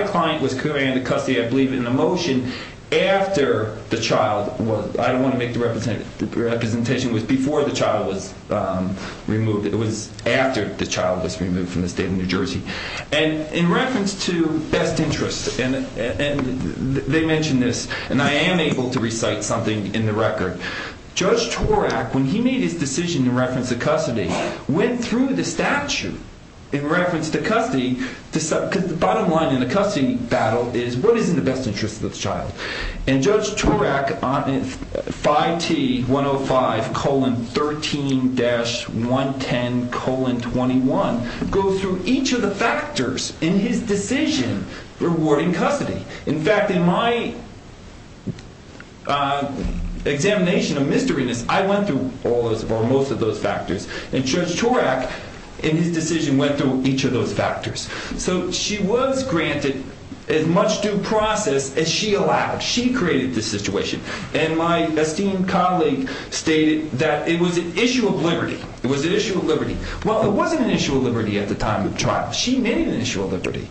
client was granted custody, I believe, in the motion after the child was, I want to make the representation it was before the child was removed, it was after the child was removed from the state of New Jersey. And in reference to best interests, and they mentioned this, and I am able to recite something in the record. Judge Turek, when he made his decision in reference to custody, went through the statute in reference to custody, because the bottom line in the custody battle is what is in the best interest of the child? And Judge Turek, 5T105,13-110,21, goes through each of the factors in his decision rewarding custody. In fact, in my examination of misdemeanors, I went through most of those factors, and Judge Turek, in his decision, went through each of those factors. So she was granted as much due process as she allowed. She created the situation. And my esteemed colleague stated that it was an issue of liberty. It was an issue of liberty. Well, it wasn't an issue of liberty at the time of the trial. She made an issue of liberty.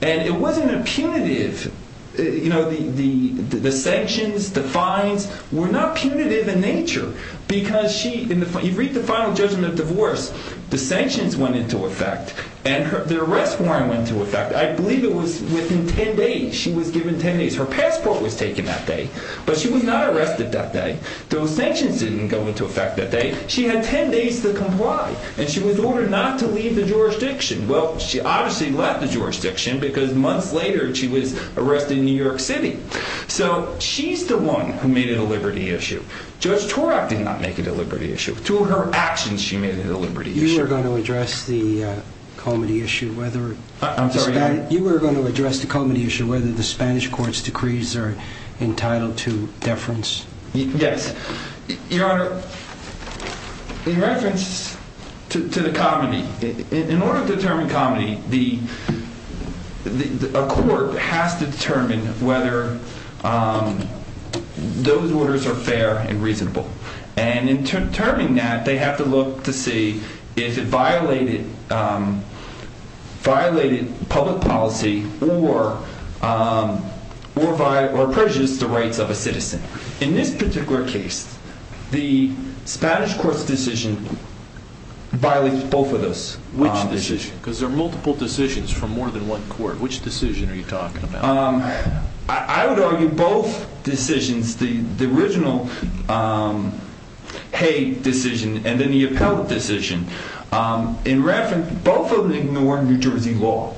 And it wasn't a punitive, you know, the sanctions, the fines, were not punitive in nature, because she, you read the final judgment of divorce, the sanctions went into effect, and the arrest warrant went into effect. I believe it was within 10 days. She was given 10 days. Her passport was taken that day. But she was not arrested that day. Those sanctions didn't go into effect that day. She had 10 days to comply, and she was ordered not to leave the jurisdiction. Well, she obviously left the jurisdiction because months later she was arrested in New York City. So she's the one who made it a liberty issue. Judge Turek did not make it a liberty issue. Through her actions, she made it a liberty issue. You were going to address the comedy issue, whether the Spanish court's decrees are entitled to deference. Yes. In reference to the comedy, in order to determine comedy, a court has to determine whether those orders are fair and reasonable. And in determining that, they have to look to see if it violated public policy or prejudices the rights of a citizen. In this particular case, the Spanish court's decision violates both of those. Which decision? Because there are multiple decisions from more than one court. Which decision are you talking about? I would argue both decisions. The original Hay decision and the Neopel decision. In reference, both of them ignore New Jersey law.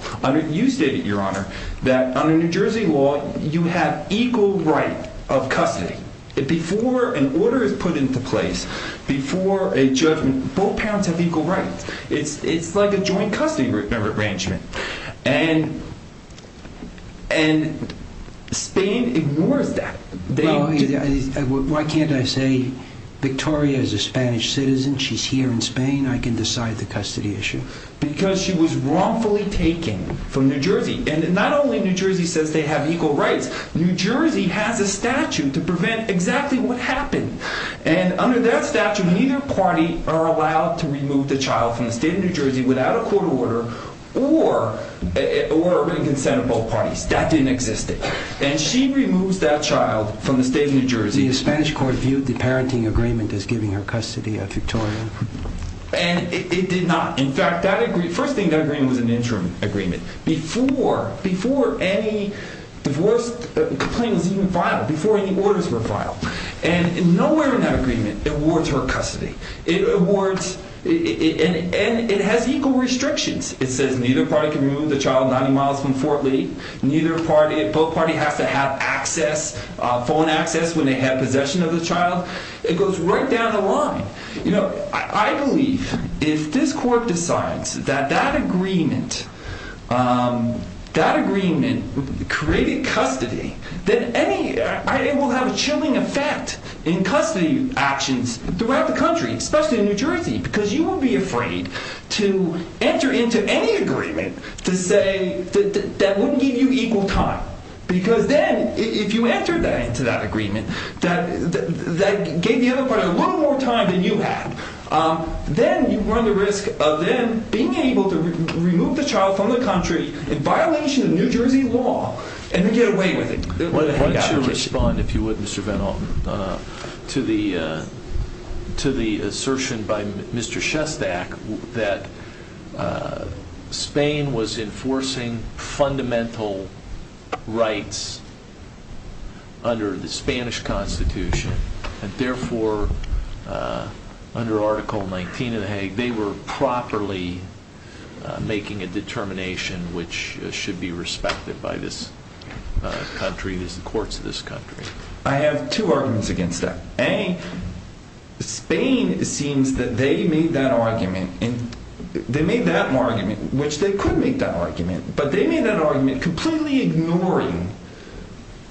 You stated, Your Honor, that under New Jersey law, you have equal rights of custody. Before an order is put into place, both parents have equal rights. It's like a joint custody arrangement. And Spain ignored that. Why can't I say, Victoria is a Spanish citizen. She's here in Spain. I can decide the custody issue. Because she was wrongfully taken from New Jersey. And not only New Jersey says they have equal rights. New Jersey has a statute to prevent exactly what happens. And under that statute, neither party are allowed to remove the child from the state of New Jersey without a court order or consent of both parties. That didn't exist then. And she removes that child from the state of New Jersey. The Spanish court viewed the parenting agreement as giving her custody of Victoria. And it did not. In fact, that agreement was an interim agreement. Before any divorce complaint was even filed. Before any orders were filed. And nowhere in that agreement awards her custody. And it has equal restrictions. It says neither party can remove the child 90 miles from Fort Lee. Both parties have to have access, phone access, when they have possession of the child. It goes right down the line. I believe if this court decides that that agreement created custody, then it will have a chilling effect in custody actions throughout the country. Especially in New Jersey. Because you would be afraid to enter into any agreement to say that that wouldn't give you equal time. Because then if you enter that into that agreement, that gave the other party a little more time than you had. Then you run the risk of then being able to remove the child from the country in violation of New Jersey law. And then get away with it. Why don't you respond, if you would, Mr. Van Alten. To the assertion by Mr. Shestack that Spain was enforcing fundamental rights under the Spanish Constitution. And therefore, under Article 19 of the Hague, they were properly making a determination which should be respected by this country and the courts of this country. I have two arguments against that. A, Spain, it seems that they made that argument. They made that argument, which they could make that argument. But they made that argument completely ignoring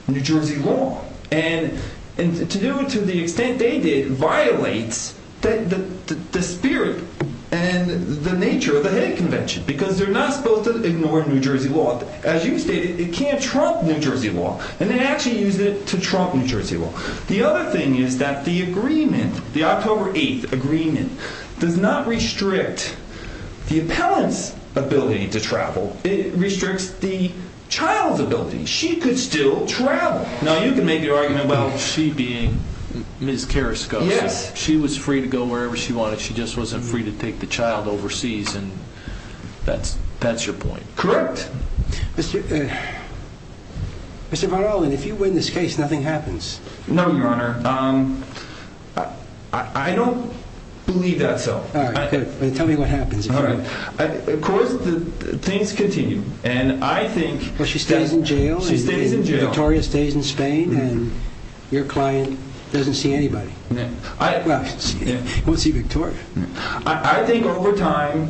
New Jersey law. And to do it to the extent they did, violates the spirit and the nature of the Hague Convention. Because they're not supposed to ignore New Jersey law. As you say, they can't trump New Jersey law. And they actually use it to trump New Jersey law. The other thing is that the agreement, the October 8th agreement, does not restrict the appellant's ability to travel. It restricts the child's ability. She could still travel. Now, you can make your argument about she being Ms. Carrasco. She was free to go wherever she wanted. She just wasn't free to take the child overseas. And that's your point. Correct. Mr. Van Alten, if you win this case, nothing happens. No, Your Honor. I don't believe that's so. All right. Then tell me what happens. All right. Of course, things continue. And I think... But she stays in jail? She stays in jail. Victoria stays in Spain. And your client doesn't see anybody. No. We'll see Victoria. I think over time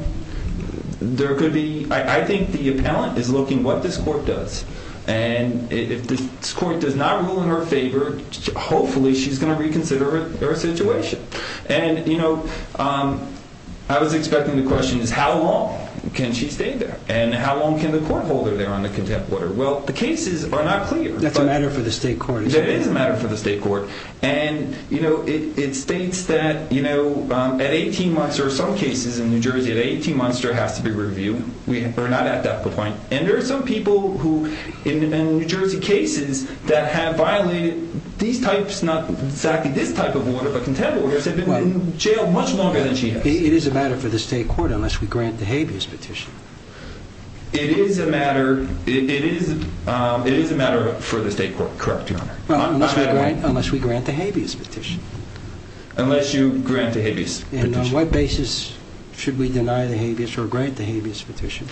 there could be... I think the appellant is looking at what this court does. And if this court does not rule in her favor, hopefully she's going to reconsider her situation. And, you know, I was expecting the question, how long can she stay there? And how long can the court hold her there on the contempt order? Well, the cases are not clear. That's a matter for the state court. It is a matter for the state court. And, you know, it states that, you know, at 18 months, there are some cases in New Jersey, at 18 months there has to be review. We are not at that point. And there are some people who in New Jersey cases that have violated these types, not exactly this type of order, but contempt orders, have been in jail much longer than she has. It is a matter for the state court unless we grant the habeas petition. It is a matter for the state court. Correct, Your Honor. Well, unless we grant the habeas petition. Unless you grant the habeas petition. And on what basis should we deny the habeas or grant the habeas petition?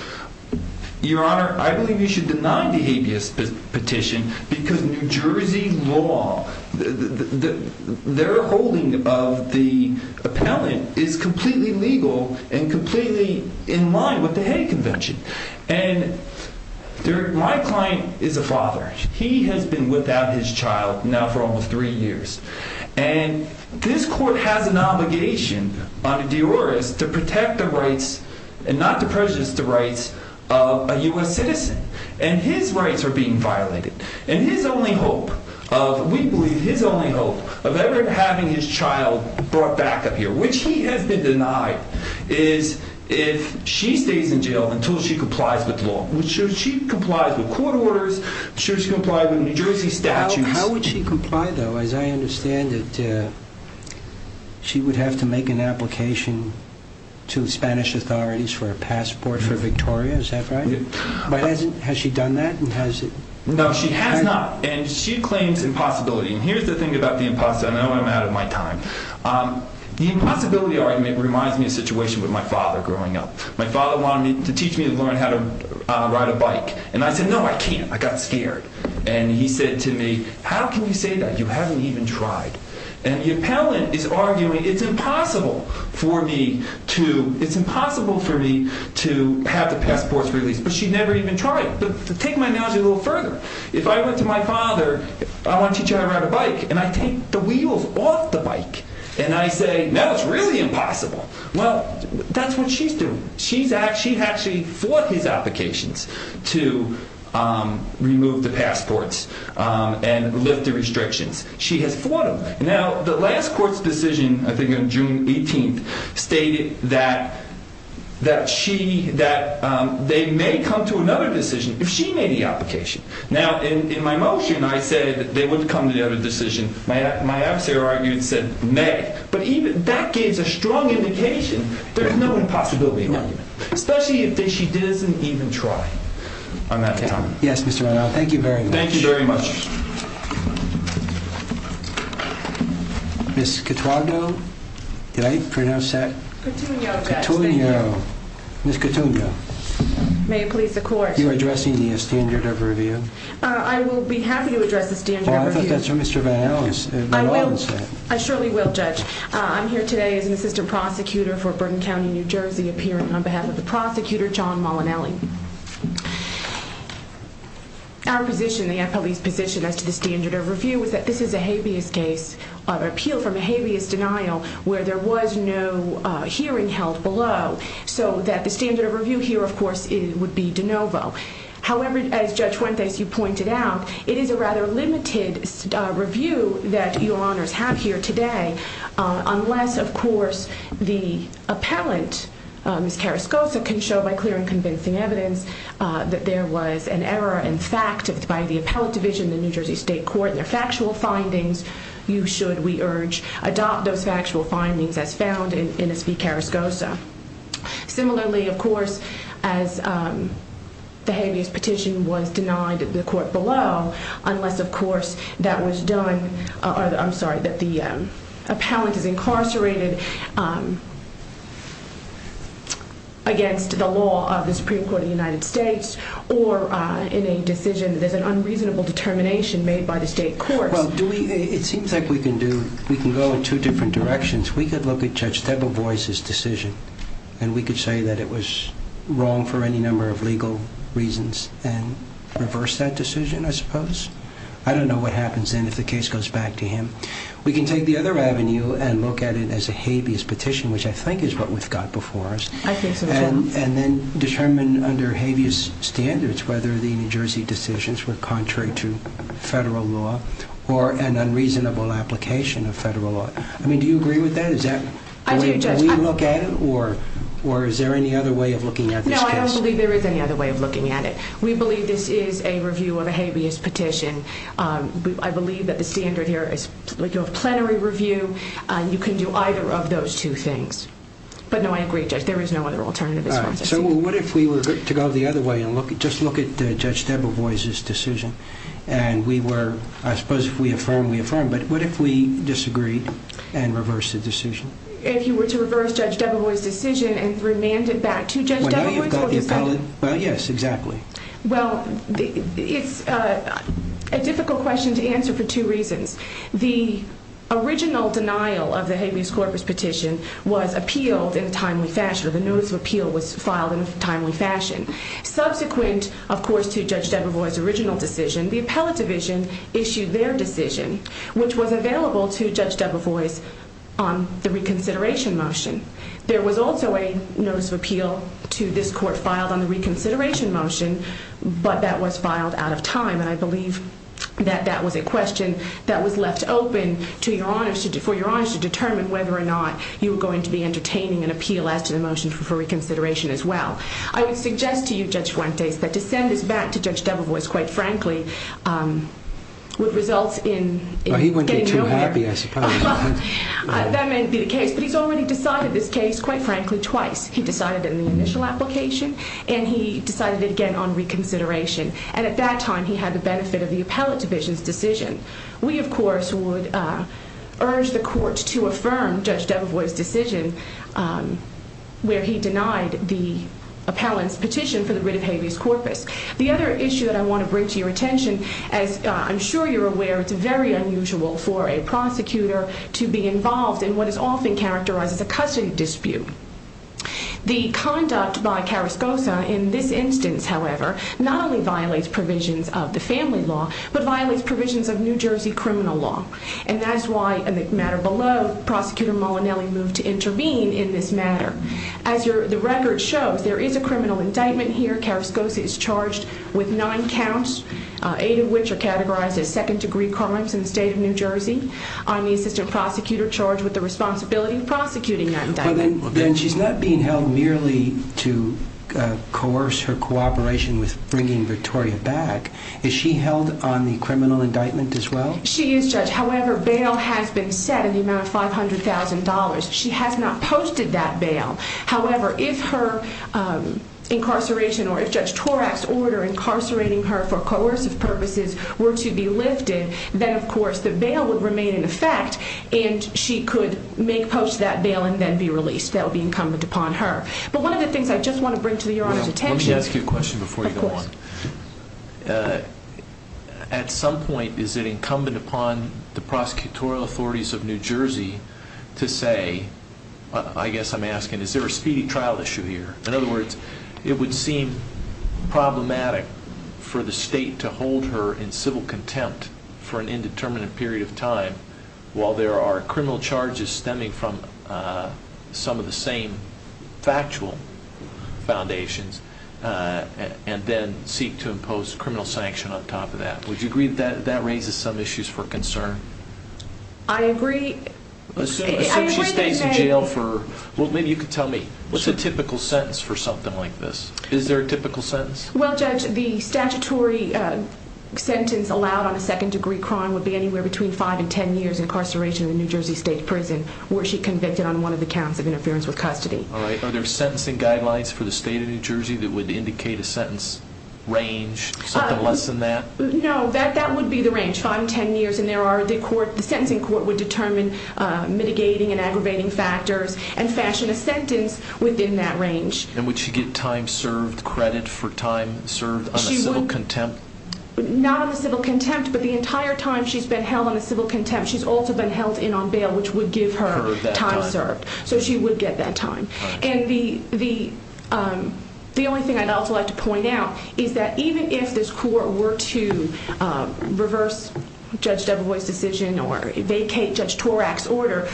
Your Honor, I believe you should deny the habeas petition because New Jersey law, their holding of the appellant is completely legal and completely in line with the Hague Convention. And my client is a father. He has been without his child now for almost three years. And this court has an obligation by the jurors to protect the rights and not to purchase the rights of a U.S. citizen. And his rights are being violated. And his only hope, we believe his only hope of ever having his child brought back up here, which he has been denied, is if she stays in jail until she complies with law. Should she comply with court orders? Should she comply with New Jersey statutes? How would she comply, though? As I understand it, she would have to make an application to Spanish authorities for a passport for Victoria. Is that right? Has she done that? No, she has not. And she claims impossibility. And here's the thing about the impossibility. I know I'm out of my time. The impossibility argument reminds me of a situation with my father growing up. My father wanted to teach me to learn how to ride a bike. And I said, no, I can't. I got scared. And he said to me, how can you say that? You haven't even tried. And the appellant is arguing it's impossible for me to have the passport released. But she's never even tried it. But take my analogy a little further. If I went to my father, I want to teach him how to ride a bike, and I take the wheels off the bike. And I say, no, it's really impossible. Well, that's what she's doing. She's actually fought these applications to remove the passports and lift the restrictions. She has fought them. Now, the last court's decision, I think on June 18th, stated that they may come to another decision if she made the application. Now, in my motion, I said they would come to another decision. My officer argued and said, may. But that gives a strong indication there's no impossibility argument, especially if she doesn't even try. I'm out of my time. Yes, Mr. Randolph. Thank you very much. Thank you very much. Ms. Cotugno? Did I pronounce that? Cotugno. Cotugno. Ms. Cotugno. May it please the court. Are you addressing the standard of review? I will be happy to address the standard of review. Well, I thought that was Mr. Vanellis. I will. I surely will, Judge. I'm here today as an assistant prosecutor for Burton County, New Jersey, appearing on behalf of the prosecutor, John Molinelli. Our position, the FLE's position, as to the standard of review, is that this is a habeas case, an appeal from a habeas denial, where there was no hearing held below. So that the standard of review here, of course, would be de novo. However, as Judge Wentz, as you pointed out, it is a rather limited review that your honors have here today, unless, of course, the appellant, Ms. Carrascosa, can show by clear and convincing evidence that there was an error in fact, by the appellant division in the New Jersey State Court, and the factual findings, you should, we urge, adopt those factual findings as found in Ms. V. Carrascosa. Similarly, of course, as the habeas petition was denied at the court below, unless, of course, that was done, I'm sorry, that the appellant had been incarcerated against the law of the Supreme Court of the United States, or in a decision that is an unreasonable determination made by the state court. Well, do we, it seems like we can do, we can go in two different directions. We could look at Judge Debevoise's decision, and we could say that it was wrong for any number of legal reasons, and reverse that decision, I suppose. I don't know what happens then if the case goes back to him. We can take the other avenue and look at it as a habeas petition, which I think is what we've got before us, and then determine under habeas standards whether the New Jersey decisions were contrary to federal law, or an unreasonable application of federal law. I mean, do you agree with that? Is that the way you look at it, or is there any other way of looking at this case? No, I don't believe there is any other way of looking at it. We believe this is a review of a habeas petition. I believe that the standard here is a plenary review. You can do either of those two things. But no, I agree, Judge, there is no other alternative. So what if we were to go the other way and just look at Judge Debevoise's decision, and we were, I suppose if we affirm, we affirm, but what if we disagreed and reversed the decision? If you were to reverse Judge Debevoise's decision and remand it back to Judge Debevoise? Yes, exactly. Well, it's a difficult question to answer for two reasons. The original denial of the habeas corpus petition was appealed in a timely fashion. The notice of appeal was filed in a timely fashion. Subsequent, of course, to Judge Debevoise's original decision, the appellate division issued their decision, which was available to Judge Debevoise on the reconsideration motion. There was also a notice of appeal to this court filed on the reconsideration motion, but that was filed out of time. And I believe that that was a question that was left open to your honors, for your honors to determine whether or not you were going to be entertaining an appeal after the motion for reconsideration as well. I would suggest to you, Judge Fuentes, that to send this back to Judge Debevoise, quite frankly, would result in... Well, he wouldn't be too happy, I suppose. That may be the case, but he's already decided this case, quite frankly, twice. He decided it in the initial application, and he decided it again on reconsideration. And at that time, he had the benefit of the appellate division's decision. We, of course, would urge the court to affirm Judge Debevoise's decision where he denied the appellant's petition for the writ of habeas corpus. The other issue that I want to bring to your attention, as I'm sure you're aware, is very unusual for a prosecutor to be involved in what is often characterized as a custody dispute. The conduct by Carrascosa in this instance, however, not only violates provisions of the family law, but violates provisions of New Jersey criminal law. And that's why, in this matter below, Prosecutor Mullinelli moved to intervene in this matter. As the record shows, there is a criminal indictment here. Carrascosa is charged with nine counts, eight of which are categorized as second-degree crimes in the state of New Jersey. I'm the assistant prosecutor charged with the responsibility of prosecuting that indictment. Then she's not being held merely to coerce her cooperation with bringing Victoria back. Is she held on the criminal indictment as well? She is, Judge. However, bail has been set in the amount of $500,000. She has not posted that bail. However, if her incarceration or if Judge Torak's order incarcerating her for coercive purposes were to be lifted, then, of course, the bail would remain in effect, and she could make post that bail and then be released. That would be incumbent upon her. But one of the things I just want to bring to Your Honor's attention— Let me ask you a question before you go on. Of course. At some point, is it incumbent upon the prosecutorial authorities of New Jersey to say, I guess I'm asking, is there a speedy trial issue here? In other words, it would seem problematic for the state to hold her in civil contempt for an indeterminate period of time while there are criminal charges stemming from some of the same factual foundations and then seek to impose criminal sanction on top of that. Would you agree that that raises some issues for concern? I agree. If she stays in jail for—well, maybe you could tell me, what's a typical sentence for something like this? Is there a typical sentence? Well, Judge, the statutory sentence allowed on a second-degree crime would be anywhere between 5 and 10 years incarceration in a New Jersey state prison where she convicted on one of the counts of interference with custody. All right. Are there sentencing guidelines for the state of New Jersey that would indicate a sentence range? Something less than that? No, that would be the range, 5 and 10 years. And there are—the sentencing court would determine mitigating and aggravating factors and fashion a sentence within that range. And would she get time served credit for time served on a civil contempt? Not on a civil contempt, but the entire time she's been held on a civil contempt, she's also been held in on bail, which would give her time served. So she would get that time. And the only thing I'd also like to point out is that even if this court were to reverse Judge Deverwood's decision or vacate Judge Torak's order,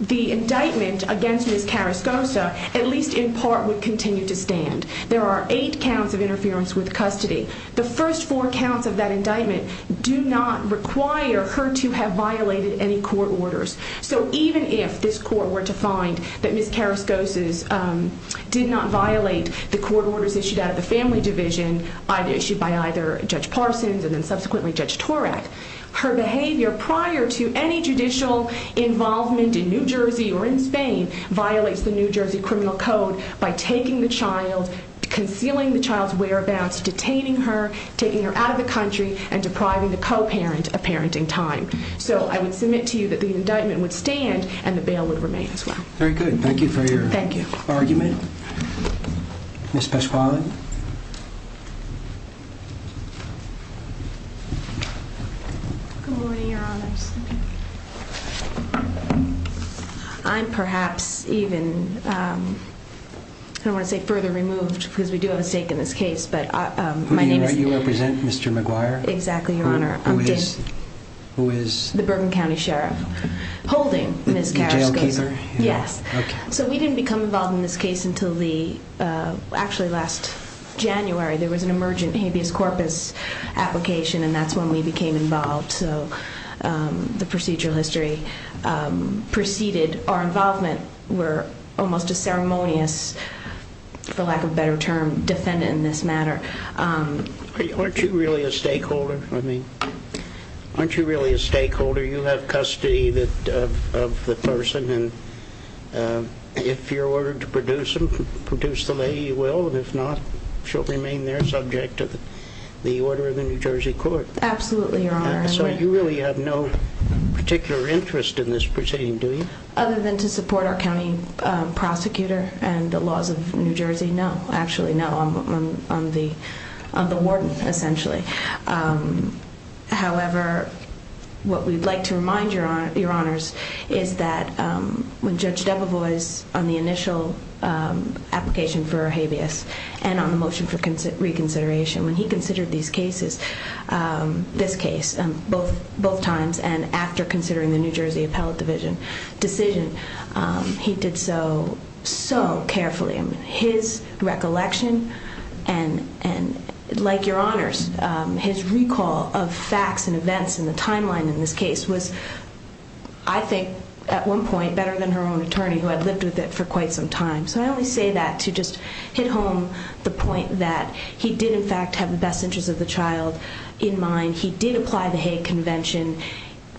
the indictment against Ms. Karaskoza, at least in part, would continue to stand. There are eight counts of interference with custody. The first four counts of that indictment do not require her to have violated any court orders. So even if this court were to find that Ms. Karaskoza did not violate the court orders issued out of the family division, either issued by either Judge Parsons and then subsequently Judge Torak, her behavior prior to any judicial involvement in New Jersey or in Spain violates the New Jersey Criminal Code by taking the child, concealing the child's whereabouts, detaining her, taking her out of the country, and depriving the co-parent of parenting time. So I would submit to you that the indictment would stand and the bail would remain as well. Very good. Thank you for your argument. Ms. Pesquale? Good morning, Your Honor. I'm perhaps even, I don't want to say further removed because we do have a stake in this case, but my name is— Who do you represent, Mr. McGuire? Exactly, Your Honor. Who is— The Bergen County Sheriff holding Ms. Karaskoza. The jailkeeper? Yes. So we didn't become involved in this case until the, actually last January. There was an emergent habeas corpus application and that's when we became involved. So the procedural history preceded our involvement. We're almost a ceremonious, for lack of a better term, defendant in this matter. Aren't you really a stakeholder? I mean, aren't you really a stakeholder? You have custody of the person who, if you're ordered to produce them, produce the lady, you will. If not, she'll remain there, subject to the order of the New Jersey court. Absolutely, Your Honor. So you really have no particular interest in this proceeding, do you? Other than to support our county prosecutor and the laws of New Jersey, no. Actually, no. I'm the warden, essentially. However, what we'd like to remind Your Honors is that when Judge Debevois, on the initial application for habeas and on the motion for reconsideration, when he considered these cases, this case, both times and after considering the New Jersey Appellate Division decision, he did so, so carefully. I mean, his recollection and, like Your Honors, his recall of facts and events and the timeline in this case was, I think, at one point, better than her own attorney, who had lived with it for quite some time. So I always say that to just hit home the point that he did, in fact, have the best interests of the child in mind. He did apply the Hague Convention.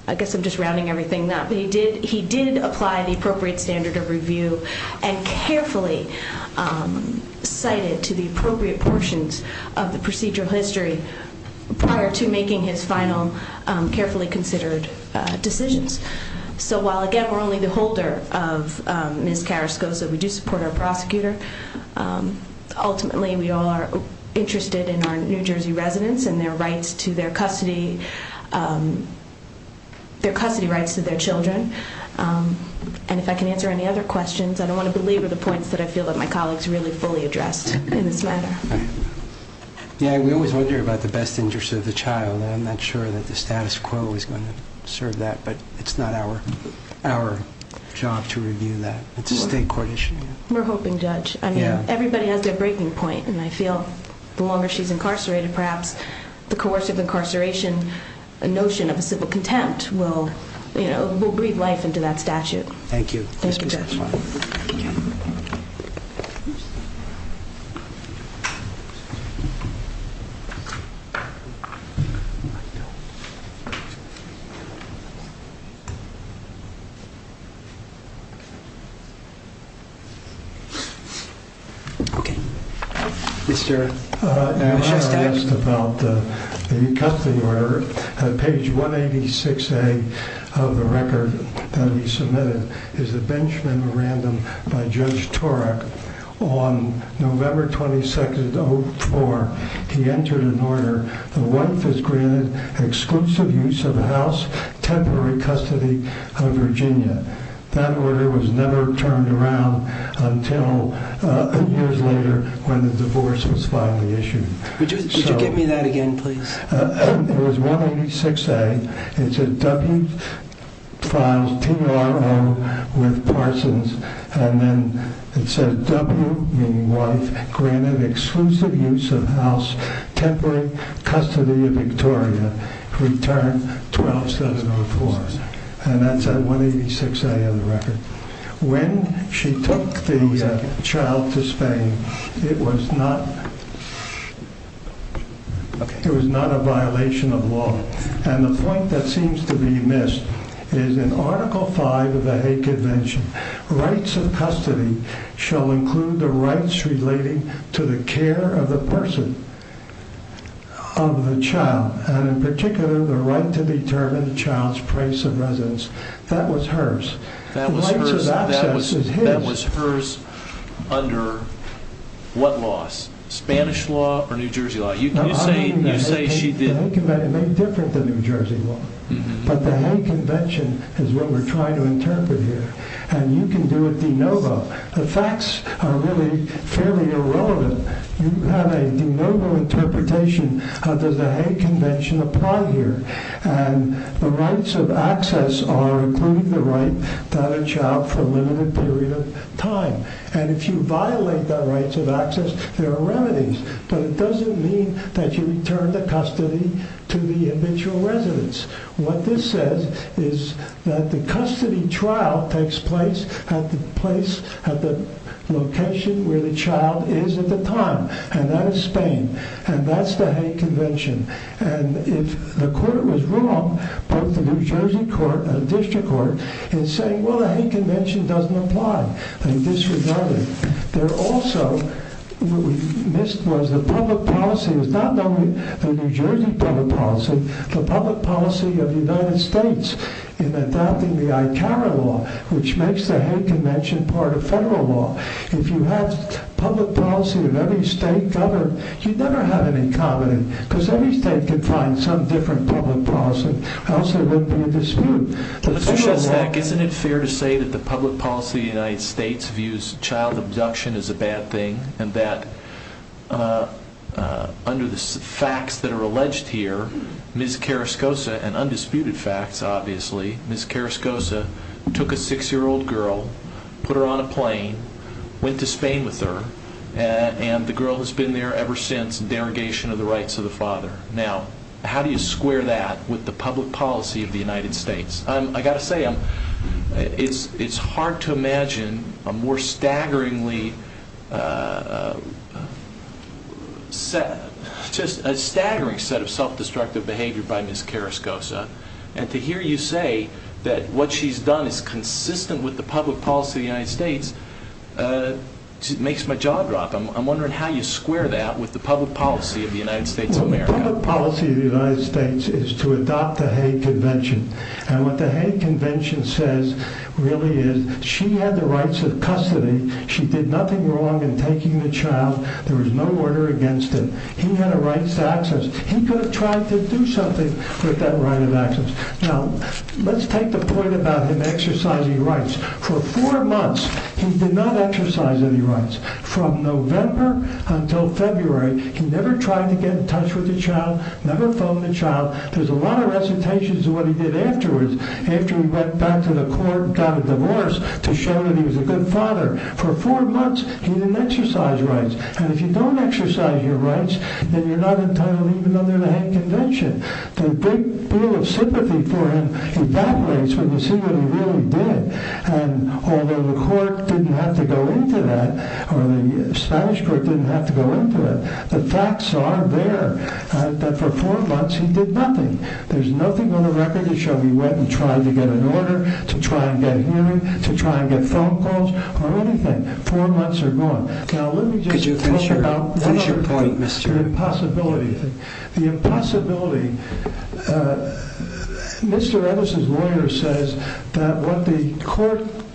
I guess I'm just rounding everything up. He did apply the appropriate standard of review and carefully cited to the appropriate portions of the procedural history prior to making his final carefully considered decisions. So while, again, we're only the holder of Ms. Carrascoza, we do support our prosecutor. Ultimately, we are interested in our New Jersey residents and their rights to their custody, their custody rights to their children. And if I can answer any other questions, I don't want to belabor the points that I feel that my colleagues really fully addressed in this matter. Yeah, we always wonder about the best interests of the child. I'm not sure that the status quo is going to serve that, but it's not our job to review that. It's a state court issue. We're hoping, Judge. Everybody has their breaking point, and I feel the longer she's incarcerated, perhaps the coercive incarceration notion of civil contempt will breathe life into that statute. Thank you. Thank you, Judge. Okay. Yes, sir. I have a question about the new custody order. Page 186A of the record to be submitted is a bench memorandum by Judge Torek. On November 22nd, 2004, he entered an order. The wife is granted exclusive use of the house, temporary custody of Virginia. That order was never turned around until eight years later when the divorce was finally issued. Could you give me that again, please? It was 186A. It said, W-5, P-R-O, with Parsons. And then it said, W, meaning wife, granted exclusive use of house, temporary custody of Victoria. Returned 2007-04. And that's on 186A of the record. When she took the child to Spain, it was not a violation of law. And the point that seems to be missed is in Article V of the Hague Convention, rights of custody shall include the rights relating to the care of the person, of the child, and in particular the right to determine the child's place of residence. That was hers. That was hers under what laws? Spanish law or New Jersey law? The Hague Convention may be different than New Jersey law, but the Hague Convention is what we're trying to interpret here. And you can do a de novo. The facts are really fairly irrelevant. You have a de novo interpretation of the Hague Convention applied here. And the rights of access are including the right to have a child for a limited period of time. And if you violate the rights of access, there are remedies. But it doesn't mean that you return the custody to the individual residence. What this says is that the custody trial takes place at the location where the child is at the time. And that is Spain. And that's the Hague Convention. And if the court was wrong, both the New Jersey court and the district court, it's saying, well, the Hague Convention doesn't apply in this regard. There also was a public policy. It was not only a New Jersey public policy. The public policy of the United States in adopting the ICARA law, which makes the Hague Convention part of federal law. If you had public policy of every state governed, you'd never have any comedy because every state could find some different public policy. Also, there'd be a dispute. Let's go back. Isn't it fair to say that the public policy of the United States views child abduction as a bad thing and that under the facts that are alleged here, Ms. Carascosa, and undisputed facts, obviously, Ms. Carascosa took a six-year-old girl, put her on a plane, went to Spain with her, and the girl has been there ever since in derogation of the rights of the father. Now, how do you square that with the public policy of the United States? I've got to say, it's hard to imagine a more staggeringly set of self-destructive behavior by Ms. Carascosa. To hear you say that what she's done is consistent with the public policy of the United States makes my jaw drop. I'm wondering how you square that with the public policy of the United States of America. The public policy of the United States is to adopt the Hague Convention. And what the Hague Convention says, really, is she had the rights of custody. She did nothing wrong in taking the child. There was no order against it. He had a right to access. He could have tried to do something with that right of access. Now, let's take the point about him exercising rights. For four months, he did not exercise any rights. From November until February, he never tried to get in touch with the child, never phoned the child. There's a lot of recitations of what he did afterwards, after he went back to the court and got a divorce, to show that he was a good father. For four months, he didn't exercise rights. And if you don't exercise your rights, then you're not entitled even under the Hague Convention. The big deal of sympathy for him evaporates when you see what he really did. And although the court didn't have to go into that, or the Spanish court didn't have to go into that, the facts are there. That for four months, he did nothing. There's nothing on the record to show he went and tried to get an order, to try and get a hearing, to try and get phone calls, or anything. Four months are gone. Now, let me just talk about the other point, the impossibility. The impossibility. Mr. Emerson's lawyer says that what the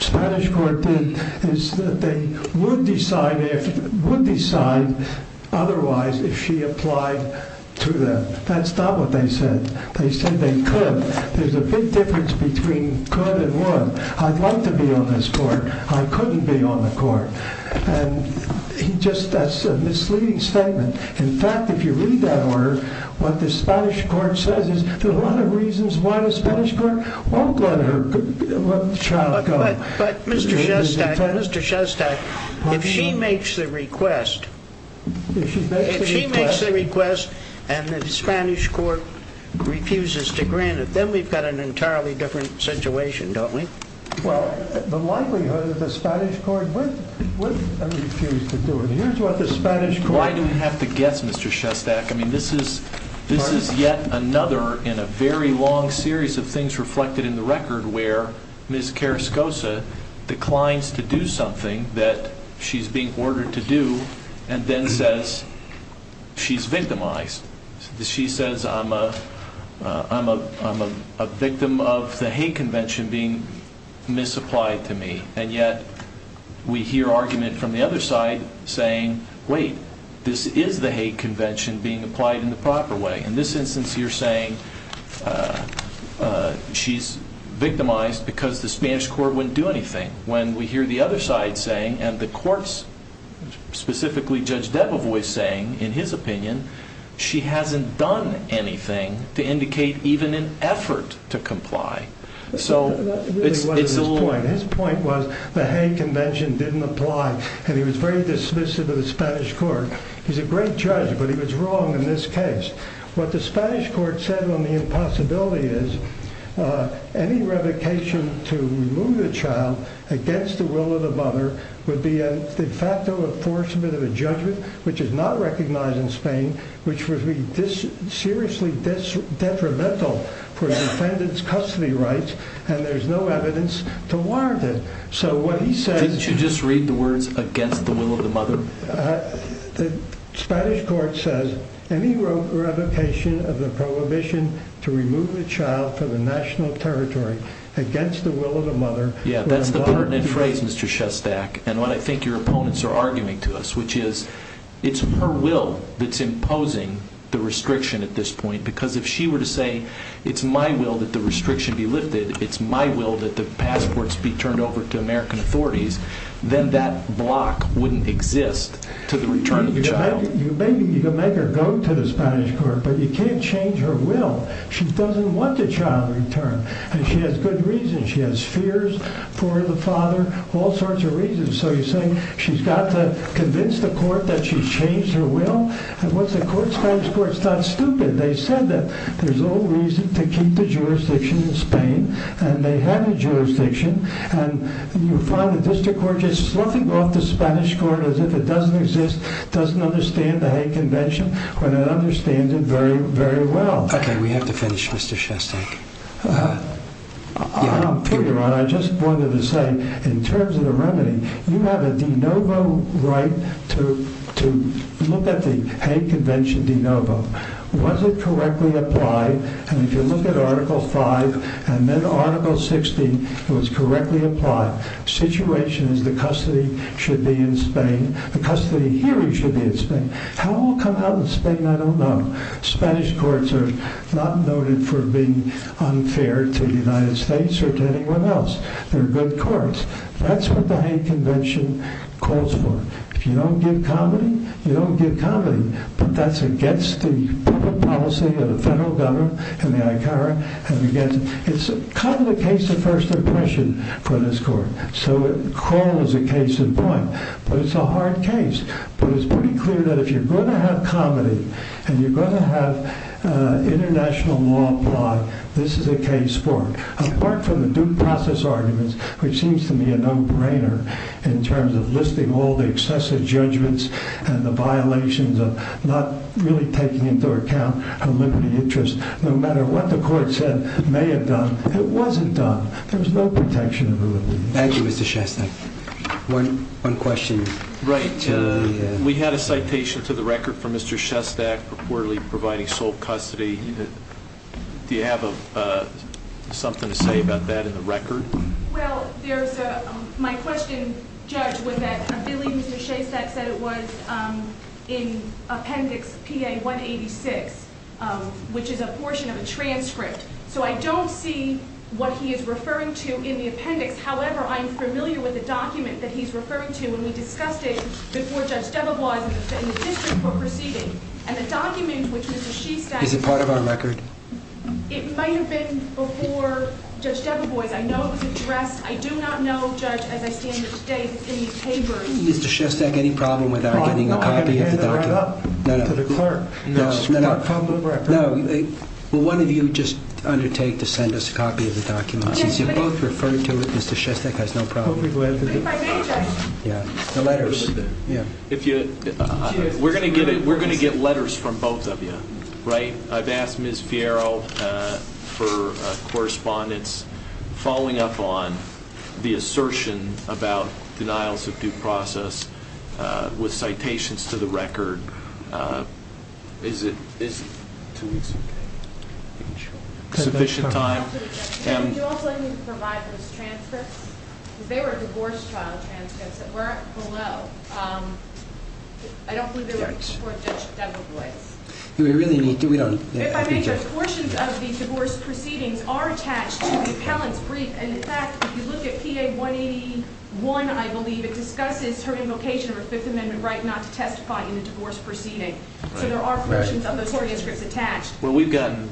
Spanish court did is that they would decide otherwise if she applied to them. That's not what they said. They said they could. There's a big difference between could and would. I'd like to be on this court. I couldn't be on the court. That's a misleading statement. In fact, if you read that order, what the Spanish court says is there are a lot of reasons why the Spanish court won't let the child go. But, Mr. Shestack, if she makes the request, and the Spanish court refuses to grant it, then we've got an entirely different situation, don't we? Well, the likelihood is the Spanish court would refuse to do it. Why do we have to guess, Mr. Shestack? I mean, this is yet another in a very long series of things reflected in the record where Ms. Carascosa declines to do something that she's being ordered to do, and then says she's victimized. She says, I'm a victim of the hate convention being misapplied to me. And yet, we hear argument from the other side saying, wait, this is the hate convention being applied in the proper way. In this instance, you're saying she's victimized because the Spanish court wouldn't do anything. When we hear the other side saying, and the courts, specifically Judge Debevoise saying, in his opinion, she hasn't done anything to indicate even an effort to comply. His point was the hate convention didn't apply, and he was very dismissive of the Spanish court. He's a great judge, but he was wrong in this case. What the Spanish court said on the impossibility is, any revocation to remove a child against the will of the mother would be a de facto enforcement of a judgment which is not recognized in Spain, which would be seriously detrimental for the defendant's custody rights, and there's no evidence to warrant it. Didn't you just read the words, against the will of the mother? The Spanish court says, any revocation of the prohibition to remove a child to the national territory against the will of the mother. Yeah, that's the pertinent phrase, Mr. Shestak, and what I think your opponents are arguing to us, which is, it's her will that's imposing the restriction at this point. Because if she were to say, it's my will that the restriction be lifted, it's my will that the passports be turned over to American authorities, then that block wouldn't exist to the return of the child. Maybe you can make her go to the Spanish court, but you can't change her will. She doesn't want the child returned, and she has good reasons. She has fears for the father, all sorts of reasons. She's got to convince the court that she changed her will, and once the court stands for it, it's not stupid. They said that there's no reason to keep the jurisdiction in Spain, and they have the jurisdiction, and you find the district court just slumping off the Spanish court as if it doesn't exist, doesn't understand the Hague Convention, when it understands it very, very well. Okay, we have to finish, Mr. Shestak. I just wanted to say, in terms of the remedy, you have a de novo right to look at the Hague Convention de novo. Was it correctly applied? And if you look at Article 5 and then Article 60, it was correctly applied. The situation is the custody should be in Spain. The custody here should be in Spain. How it will come out in Spain, I don't know. Spanish courts are not noted for being unfair to the United States or to anyone else. They're good courts. That's what the Hague Convention calls for. If you don't give comedy, you don't give comedy. That's against the public policy of the federal government and the ICARA. It's kind of the case of first impression for this court. Coral is a case in point, but it's a hard case. It's pretty clear that if you're going to have comedy and you're going to have international law applied, this is the case for it. Apart from the due process arguments, which seems to me a no-brainer in terms of listing all the excessive judgments and the violations of not really taking into account a limited interest. No matter what the court said it may have done, it wasn't done. Thank you, Mr. Shestak. One question. Right. We had a citation to the record for Mr. Shestak reportedly providing sole custody. Do you have something to say about that in the record? Well, my question, Judge, was that Billy Shestak said it was in Appendix PA 186, which is a portion of a transcript. So I don't see what he is referring to in the appendix. However, I'm familiar with the document that he's referring to when we discussed it before Judge Stevens was in the position for proceeding. And the document, which is a sheet that— Is it part of our record? It might have been before Judge Stevens was. I know it was addressed. I do not know, Judge, as I stand today, that it's in these papers. Mr. Shestak, any problem with our getting a copy of the record? No. No. No. Well, why don't you just undertake to send us a copy of the document? You can refer to it. Mr. Shestak has no problem with it. Yeah. The letters. We're going to get letters from both of you, right? I've asked Ms. Fierro for correspondence following up on the assertion about denials of due process with citations to the record. Is it business? It's official time. You're also going to need to provide the transcript. They were divorce trial transcripts that weren't below. I don't believe they were before Judge Stevens was. Do we really need to? The portions of the divorce proceedings are attached to the account brief, and in fact, if you look at PA 181, I believe, it discusses term and location of a Fifth Amendment right not to testify in the divorce proceedings. So there are portions of the transcript attached. Well, we've gotten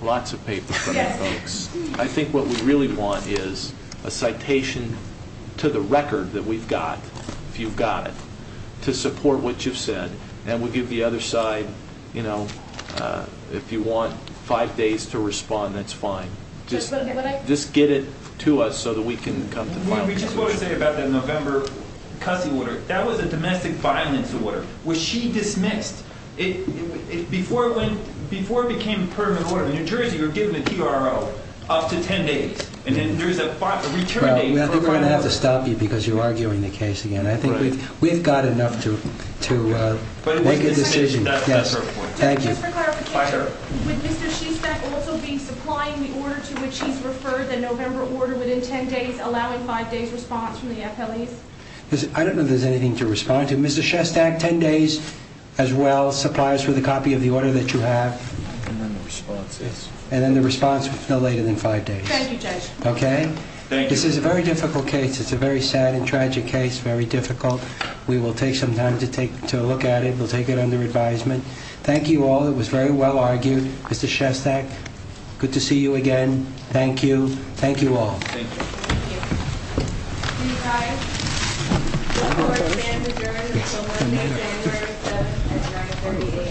lots of papers from the folks. I think what we really want is a citation to the record that we've got, if you've got it, to support what you've said, and we'll give the other side, you know, if you want five days to respond, that's fine. Just get it to us so that we can come to a final decision. We just voted today about that November custody order. That was a domestic violence order. Was she dismissed? Before it became a permanent order, in New Jersey, you're given a TRO up to 10 days, and then there's a return date. We're going to have to stop you because you're arguing the case again. We've got enough to make a decision. Thank you. Just for clarification, would Mr. Shustak also be supplying the order to which he's referred, the November order, within 10 days, allowing five days' response from the FLE? I don't know if there's anything to respond to. Mr. Shustak, 10 days as well, supplies for the copy of the order that you have, and then the response is no later than five days. Thank you, Judge. Okay? Thank you. This is a very difficult case. It's a very sad and tragic case, very difficult. We will take some time to look at it. We'll take it under advisement. Thank you all. It was very well argued. Mr. Shustak, good to see you again. Thank you. Thank you all. Thank you. Thank you. Thank you. Thank you. Thank you. Thank you. Thank you. Thank you.